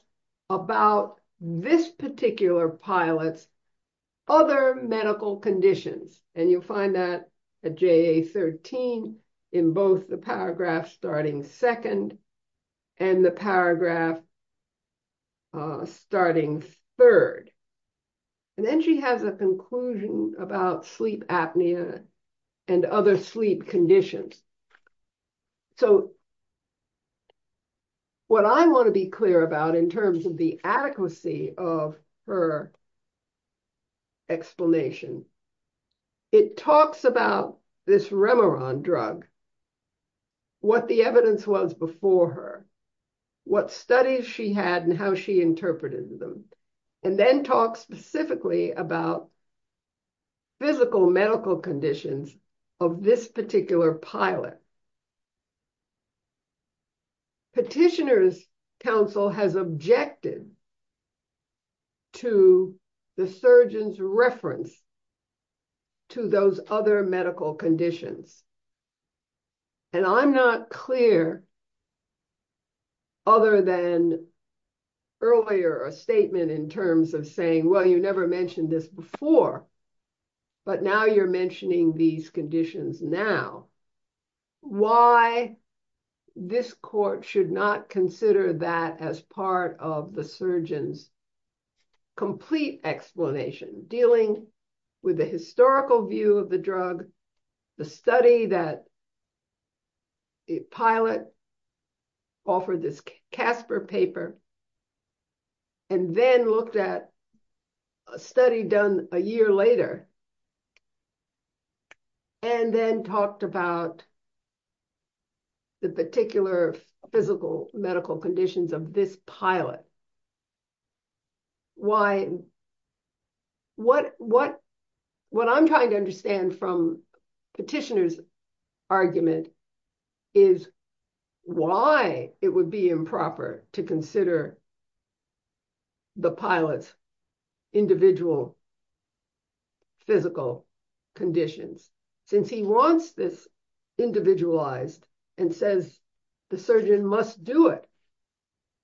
about this particular pilot's other medical conditions. And you'll find that at JA 13 in both the paragraph starting second and the paragraph starting third. And then she has a conclusion about sleep apnea and other sleep conditions. So, what I want to be clear about in terms of the adequacy of her explanation, it talks about this Remeron drug, what the evidence was before her, what studies she had and how she interpreted them. And then talks specifically about physical medical conditions of this particular pilot. Petitioner's counsel has objected to the surgeon's reference to those other medical conditions. And I'm not clear other than earlier a statement in terms of saying, well, you never mentioned this before. But now you're mentioning these conditions now. Why this court should not consider that as part of the surgeon's complete explanation, dealing with the historical view of the drug, the study that the pilot offered this Casper paper, and then looked at a study done a year later. And then talked about the particular physical medical conditions of this pilot. What I'm trying to understand from petitioner's argument is why it would be improper to consider the pilot's individual physical conditions, since he wants this individualized and says the surgeon must do it.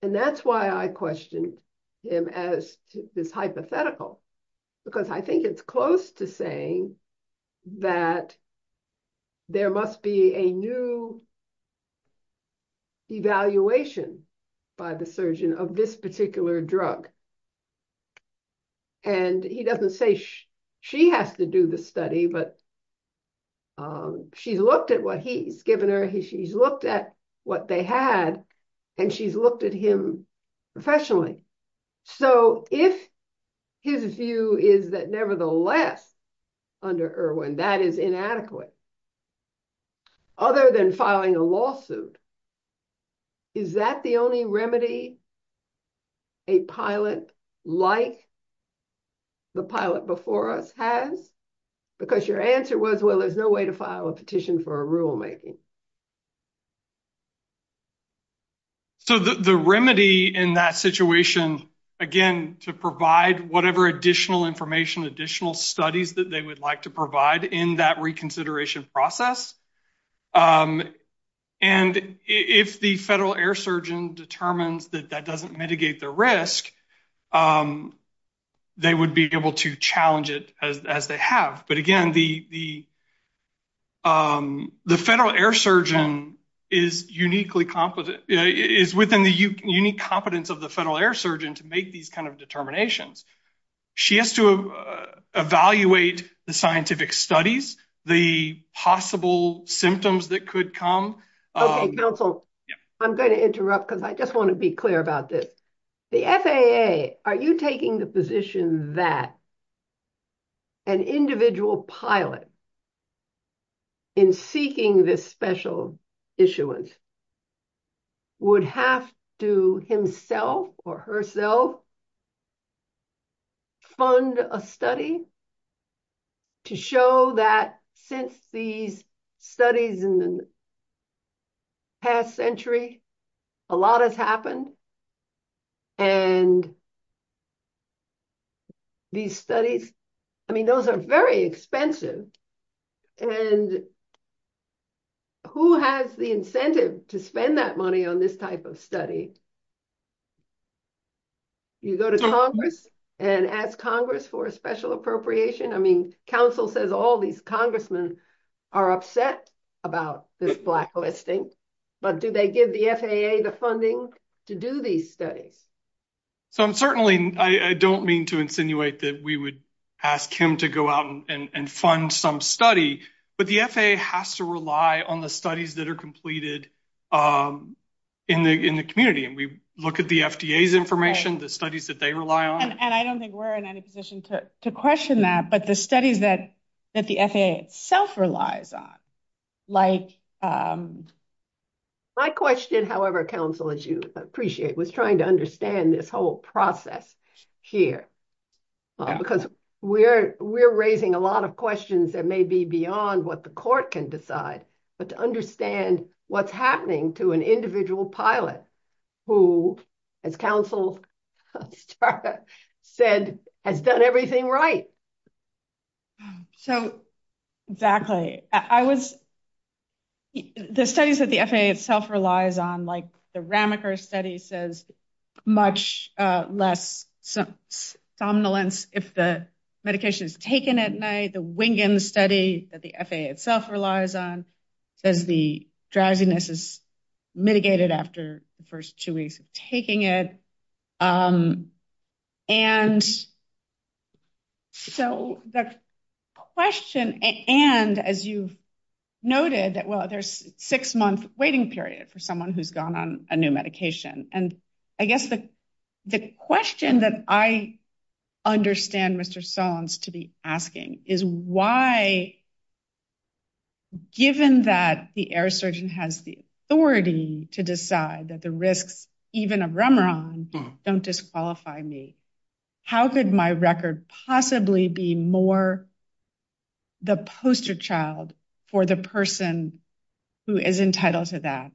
And that's why I question him as this hypothetical, because I think it's close to saying that there must be a new evaluation by the surgeon of this particular drug. And he doesn't say she has to do the study, but she's looked at what he's given her, she's looked at what they had, and she's looked at him professionally. So, if his view is that nevertheless, under Irwin, that is inadequate, other than filing a lawsuit, is that the only remedy a pilot like the pilot before us has? Because your answer was, well, there's no way to file a petition for a rulemaking. So, the remedy in that situation, again, to provide whatever additional information, additional studies that they would like to provide in that reconsideration process. And if the federal air surgeon determines that that doesn't mitigate the risk, they would be able to challenge it as they have. But again, the federal air surgeon is uniquely competent, is within the unique competence of the federal air surgeon to make these kind of determinations. She has to evaluate the scientific studies, the possible symptoms that could come. Okay, counsel, I'm going to interrupt because I just want to be clear about this. The FAA, are you taking the position that an individual pilot in seeking this special issuance would have to himself or herself fund a study to show that since these studies in the past century, a lot has happened, and these studies, I mean, those are very expensive. And who has the incentive to spend that money on this type of study? You go to Congress and ask Congress for a special appropriation? I mean, counsel says all these congressmen are upset about this blacklisting, but do they give the FAA the funding to do these studies? So, I'm certainly, I don't mean to insinuate that we would ask him to go out and fund some study, but the FAA has to rely on the studies that are completed in the community. And we look at the FDA's information, the studies that they rely on. And I don't think we're in any position to question that, but the studies that the FAA itself relies on. My question, however, counsel, as you appreciate, was trying to understand this whole process here. Because we're raising a lot of questions that may be beyond what the court can decide. But to understand what's happening to an individual pilot who, as counsel said, has done everything right. So, exactly. The studies that the FAA itself relies on, like the Ramaker study says much less somnolence if the medication is taken at night. The Wingen study that the FAA itself relies on says the drowsiness is mitigated after the first two weeks of taking it. And so, the question, and as you've noted, well, there's a six-month waiting period for someone who's gone on a new medication. And I guess the question that I understand Mr. Stallings to be asking is why, given that the air surgeon has the authority to decide that the risks, even of remeron, don't disqualify me. How could my record possibly be more the poster child for the person who is entitled to that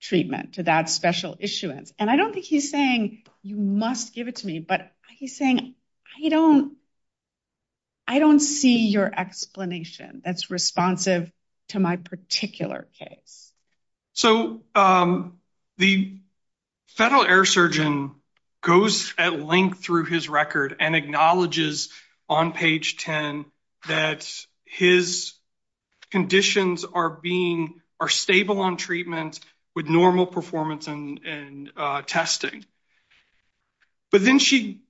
treatment, to that special issuance? And I don't think he's saying you must give it to me, but he's saying I don't see your explanation that's responsive to my particular case. So, the federal air surgeon goes at length through his record and acknowledges on page 10 that his conditions are stable on treatment with normal performance and testing. But then she,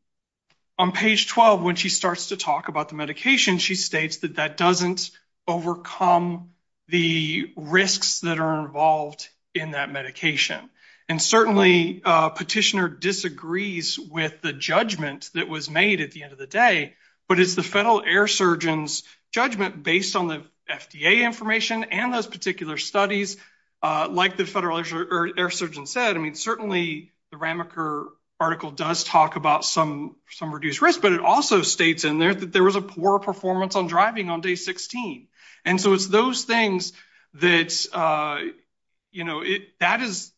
on page 12, when she starts to talk about the medication, she states that that doesn't overcome the risks that are involved in that medication. And certainly, Petitioner disagrees with the judgment that was made at the end of the day, but it's the federal air surgeon's judgment based on the FDA information and those particular studies. Like the federal air surgeon said, I mean, certainly, the Ramaker article does talk about some reduced risk, but it also states in there that there was a poor performance on driving on day 16. And so, it's those things that, you know, that is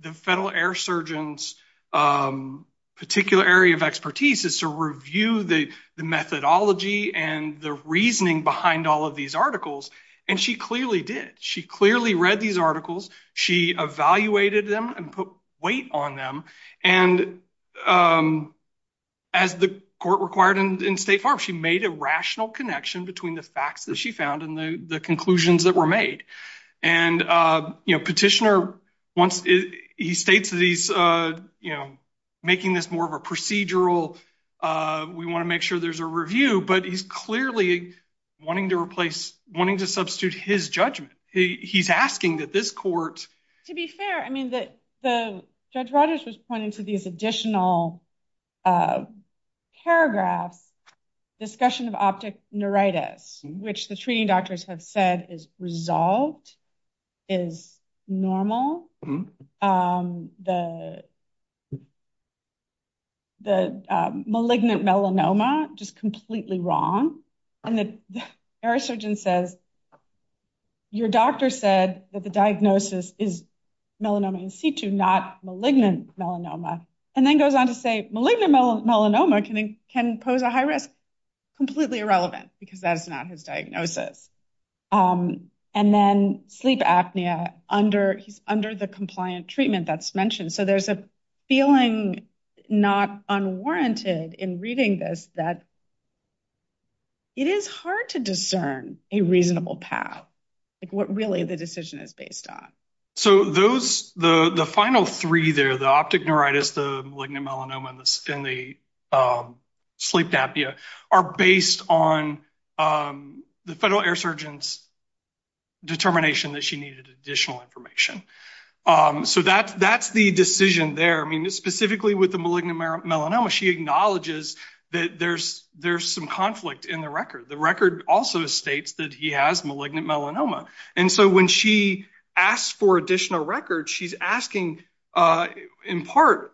the federal air surgeon's particular area of expertise is to review the methodology and the reasoning behind all of these articles. And she clearly did. She clearly read these articles. She evaluated them and put weight on them. And as the court required in State Farm, she made a rational connection between the facts that she found and the conclusions that were made. And, you know, Petitioner, he states that he's, you know, making this more of a procedural, we want to make sure there's a review. But he's clearly wanting to replace, wanting to substitute his judgment. He's asking that this court. To be fair, I mean, Judge Rogers was pointing to this additional paragraph, discussion of optic neuritis, which the treating doctors have said is resolved, is normal. The malignant melanoma, just completely wrong. And the air surgeon says, your doctor said that the diagnosis is melanoma in situ, not malignant melanoma. And then goes on to say malignant melanoma can pose a high risk. Completely irrelevant because that's not his diagnosis. And then sleep apnea under the compliant treatment that's mentioned. So there's a feeling not unwarranted in reading this that it is hard to discern a reasonable path. What really the decision is based on. So those, the final three there, the optic neuritis, the malignant melanoma, and the sleep apnea are based on the federal air surgeon's determination that she needed additional information. So that's the decision there. I mean, specifically with the malignant melanoma, she acknowledges that there's some conflict in the record. The record also states that he has malignant melanoma. And so when she asks for additional records, she's asking in part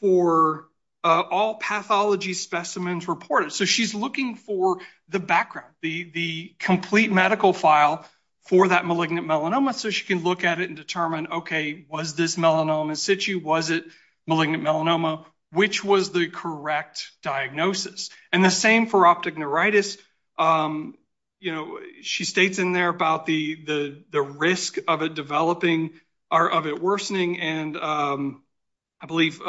for all pathology specimens reported. So she's looking for the background, the complete medical file for that malignant melanoma so she can look at it and determine, okay, was this melanoma in situ? Was it malignant melanoma? Which was the correct diagnosis? And the same for optic neuritis. She states in there about the risk of it developing or of it worsening and, I believe,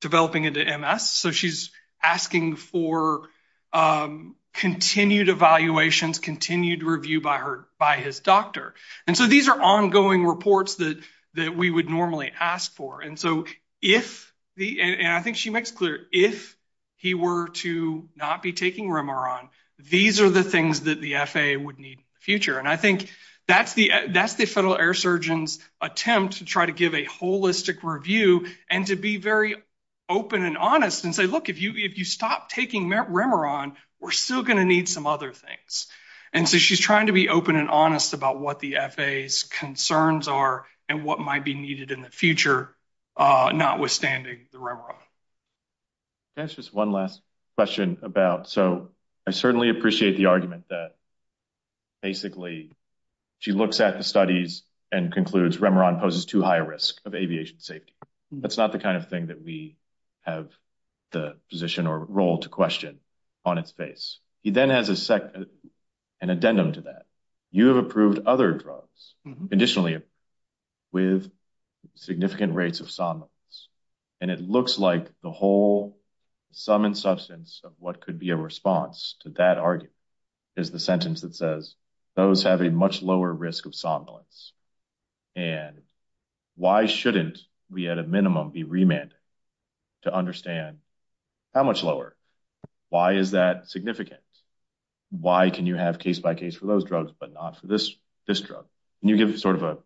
developing into MS. So she's asking for continued evaluations, continued review by his doctor. And so these are ongoing reports that we would normally ask for. And so if, and I think she makes it clear, if he were to not be taking remeron, these are the things that the FAA would need in the future. And I think that's the Federal Air Surgeon's attempt to try to give a holistic review and to be very open and honest and say, look, if you stop taking remeron, we're still going to need some other things. And so she's trying to be open and honest about what the FAA's concerns are and what might be needed in the future, notwithstanding the remeron. Can I ask just one last question about, so I certainly appreciate the argument that basically she looks at the studies and concludes remeron poses too high risk of aviation safety. That's not the kind of thing that we have the position or role to question on its face. He then has an addendum to that. You have approved other drugs, conditionally, with significant rates of somnolence. And it looks like the whole sum and substance of what could be a response to that argument is the sentence that says, those have a much lower risk of somnolence. And why shouldn't we at a minimum be remanded to understand how much lower? Why is that significant? Why can you have case by case for those drugs, but not for this drug? Can you give sort of a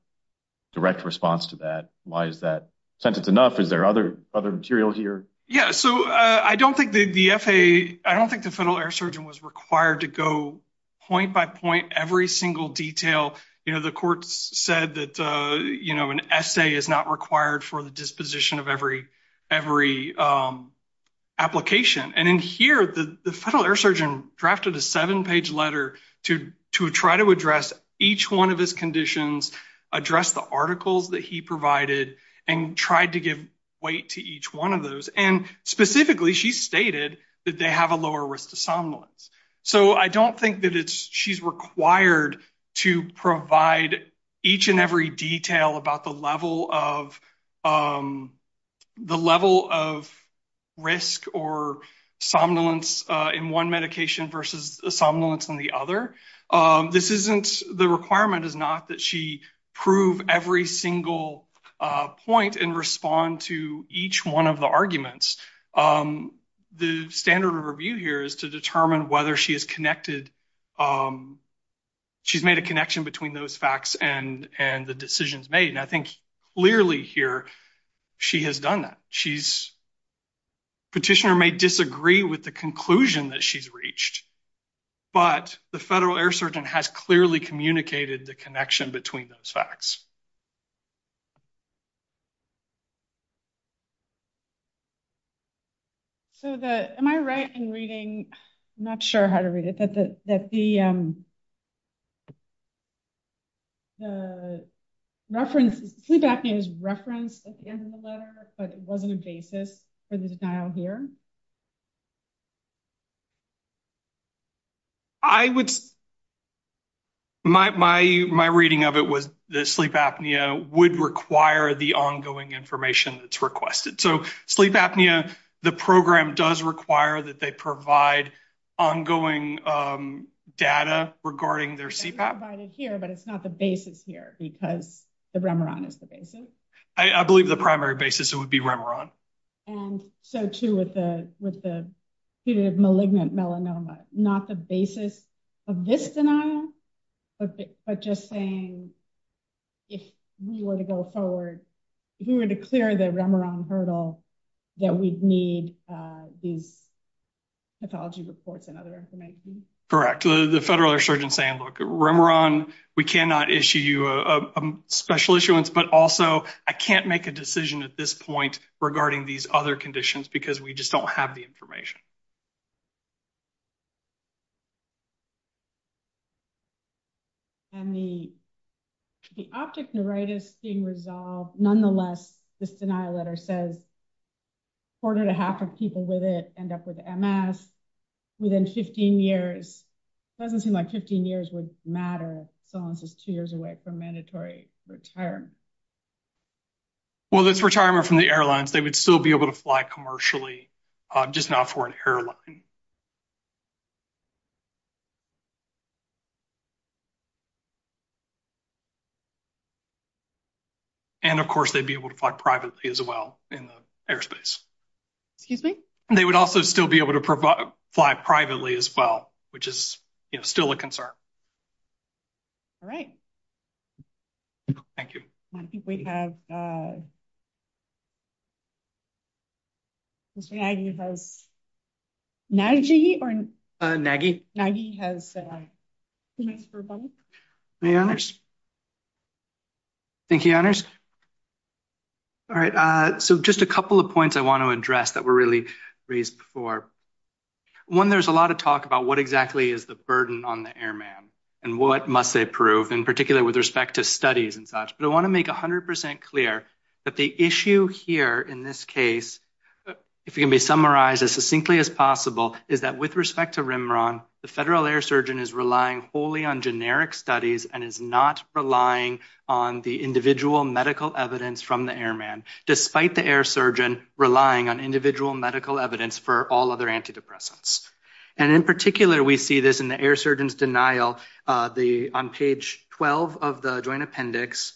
direct response to that? Why is that sentence enough? Is there other material here? Yeah, so I don't think the FAA, I don't think the federal air surgeon was required to go point by point every single detail. You know, the court said that, you know, an essay is not required for the disposition of every application. And in here, the federal air surgeon drafted a seven-page letter to try to address each one of his conditions, address the articles that he provided, and tried to give weight to each one of those. And specifically, she stated that they have a lower risk of somnolence. So I don't think that she's required to provide each and every detail about the level of risk or somnolence in one medication versus somnolence in the other. This isn't, the requirement is not that she prove every single point and respond to each one of the arguments. The standard of review here is to determine whether she has connected, she's made a connection between those facts and the decisions made. And I think clearly here, she has done that. She's, petitioner may disagree with the conclusion that she's reached, but the federal air surgeon has clearly communicated the connection between those facts. So am I right in reading, I'm not sure how to read it, that the reference, sleep apnea is referenced at the end of the letter, but it wasn't a basis for the denial here? I would, my reading of it was that sleep apnea would require the ongoing information that's requested. So sleep apnea, the program does require that they provide ongoing data regarding their CPAP. It's provided here, but it's not the basis here because the remeron is the basis. I believe the primary basis would be remeron. And so, too, with the malignant melanoma, not the basis of this denial, but just saying, if we were to go forward, if we were to clear the remeron hurdle, that we'd need the pathology reports and other information. Correct. The federal surgeon saying, look, remeron, we cannot issue you a special issuance, but also I can't make a decision at this point regarding these other conditions because we just don't have the information. And the optic neuritis being resolved, nonetheless, this denial letter says a quarter and a half of people with it end up with MS within 15 years. It doesn't seem like 15 years would matter if someone's just two years away from mandatory retirement. Well, if it's retirement from the airlines, they would still be able to fly commercially, just not for an airline. And, of course, they'd be able to fly privately as well in the airspace. They would also still be able to fly privately as well, which is still a concern. All right. Thank you. I think we have. You have 90 or 90. He has the honors. Thank you. All right. So just a couple of points I want to address that were really raised for one. There's a lot of talk about what exactly is the burden on the airman and what must they prove in particular with respect to studies and such. But I want to make 100% clear that the issue here in this case, if you can be summarized as succinctly as possible, is that with respect to remeron, the federal air surgeon is relying wholly on generic studies and is not relying on the individual medical evidence from the airman, despite the air surgeon relying on individual medical evidence for all other antidepressants. And in particular, we see this in the air surgeon's denial on page 12 of the joint appendix.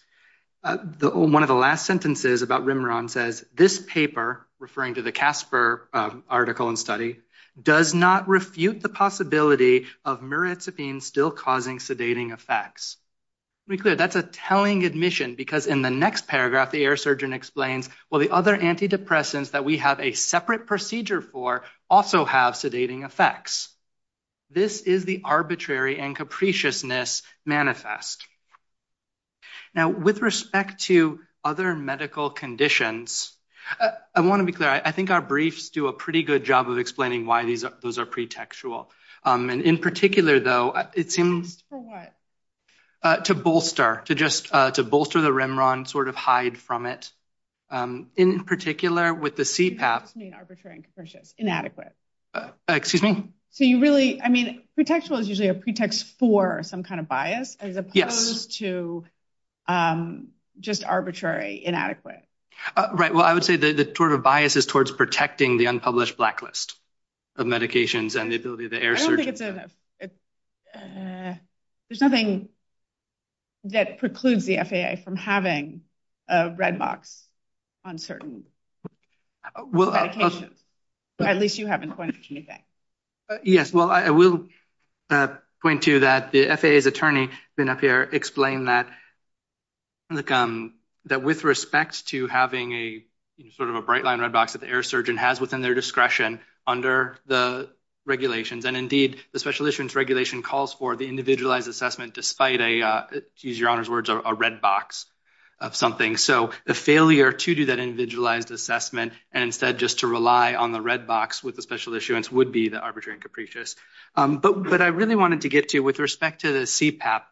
One of the last sentences about remeron says, this paper, referring to the Casper article and study, does not refute the possibility of mirazapine still causing sedating effects. That's a telling admission because in the next paragraph, the air surgeon explains, well, the other antidepressants that we have a separate procedure for also have sedating effects. This is the arbitrary and capriciousness manifest. Now, with respect to other medical conditions, I want to be clear. I think our briefs do a pretty good job of explaining why those are pretextual. In particular, though, it seems to bolster the remeron, sort of hide from it. In particular, with the CPAP. Arbitrary and capricious, inadequate. Excuse me? So you really, I mean, pretextual is usually a pretext for some kind of bias as opposed to just arbitrary, inadequate. Right, well, I would say the sort of bias is towards protecting the unpublished blacklist of medications and the ability of the air surgeon. I don't think it's a, it's, there's nothing that precludes the FAA from having a red box on certain. Well, I'll say. At least you haven't pointed to anything. Yes, well, I will point to that. The FAA's attorney explained that with respect to having a sort of a bright line, a box that the air surgeon has within their discretion under the regulations. And indeed, the special issuance regulation calls for the individualized assessment despite a, to use your honor's words, a red box of something. So the failure to do that individualized assessment and instead just to rely on the red box with the special issuance would be the arbitrary and capricious. But what I really wanted to get to with respect to the CPAP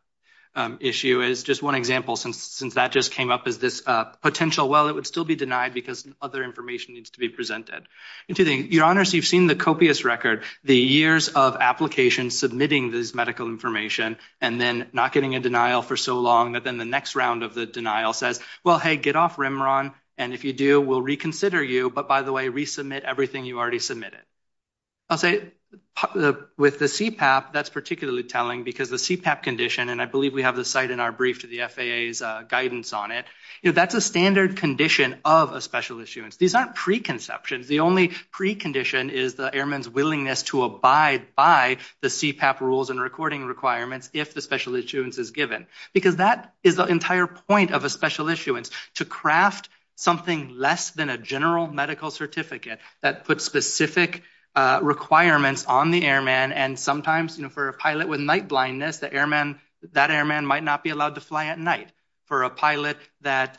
issue is just one example. Since that just came up as this potential, well, it would still be denied because other information needs to be presented. Your honors, you've seen the copious record, the years of applications submitting this medical information and then not getting a denial for so long that then the next round of the denial said, well, hey, get off Remeron. And if you do, we'll reconsider you. But by the way, resubmit everything you already submitted. I'll say with the CPAP, that's particularly telling because the CPAP condition, and I believe we have the site in our brief to the FAA's guidance on it. That's a standard condition of a special issuance. These aren't preconceptions. The only precondition is the airman's willingness to abide by the CPAP rules and recording requirements if the special issuance is given. Because that is the entire point of a special issuance, to craft something less than a general medical certificate that puts specific requirements on the airman. And sometimes for a pilot with night blindness, that airman might not be allowed to fly at night. For a pilot that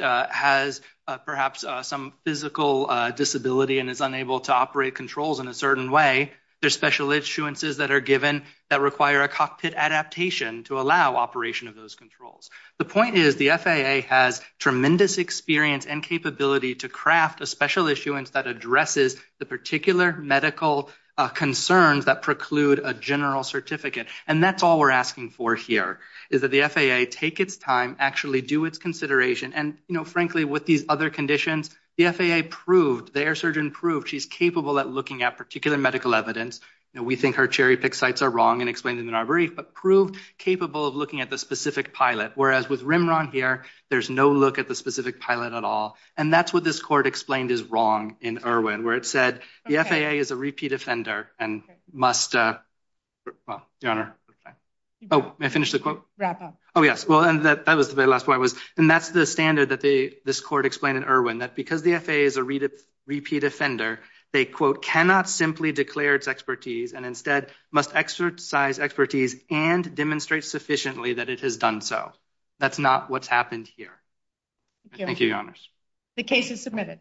has perhaps some physical disability and is unable to operate controls in a certain way, there's special issuances that are given that require a cockpit adaptation to allow operation of those controls. The point is the FAA has tremendous experience and capability to craft a special issuance that addresses the particular medical concerns that preclude a general certificate. And that's all we're asking for here, is that the FAA take its time, actually do its consideration. And frankly, with these other conditions, the FAA proved, the air surgeon proved, she's capable of looking at particular medical evidence. We think her cherry pick sites are wrong and explained in our brief, but proved capable of looking at the specific pilot. Whereas with Rimron here, there's no look at the specific pilot at all. And that's what this court explained is wrong in Irwin, where it said the FAA is a repeat offender and must, well, Your Honor. Oh, may I finish the quote? Wrap up. Oh, yes. Well, that was the last one. And that's the standard that this court explained in Irwin, that because the FAA is a repeat offender, they, quote, cannot simply declare its expertise and instead must exercise expertise and demonstrate sufficiently that it has done so. That's not what's happened here. Thank you, Your Honors. The case is submitted.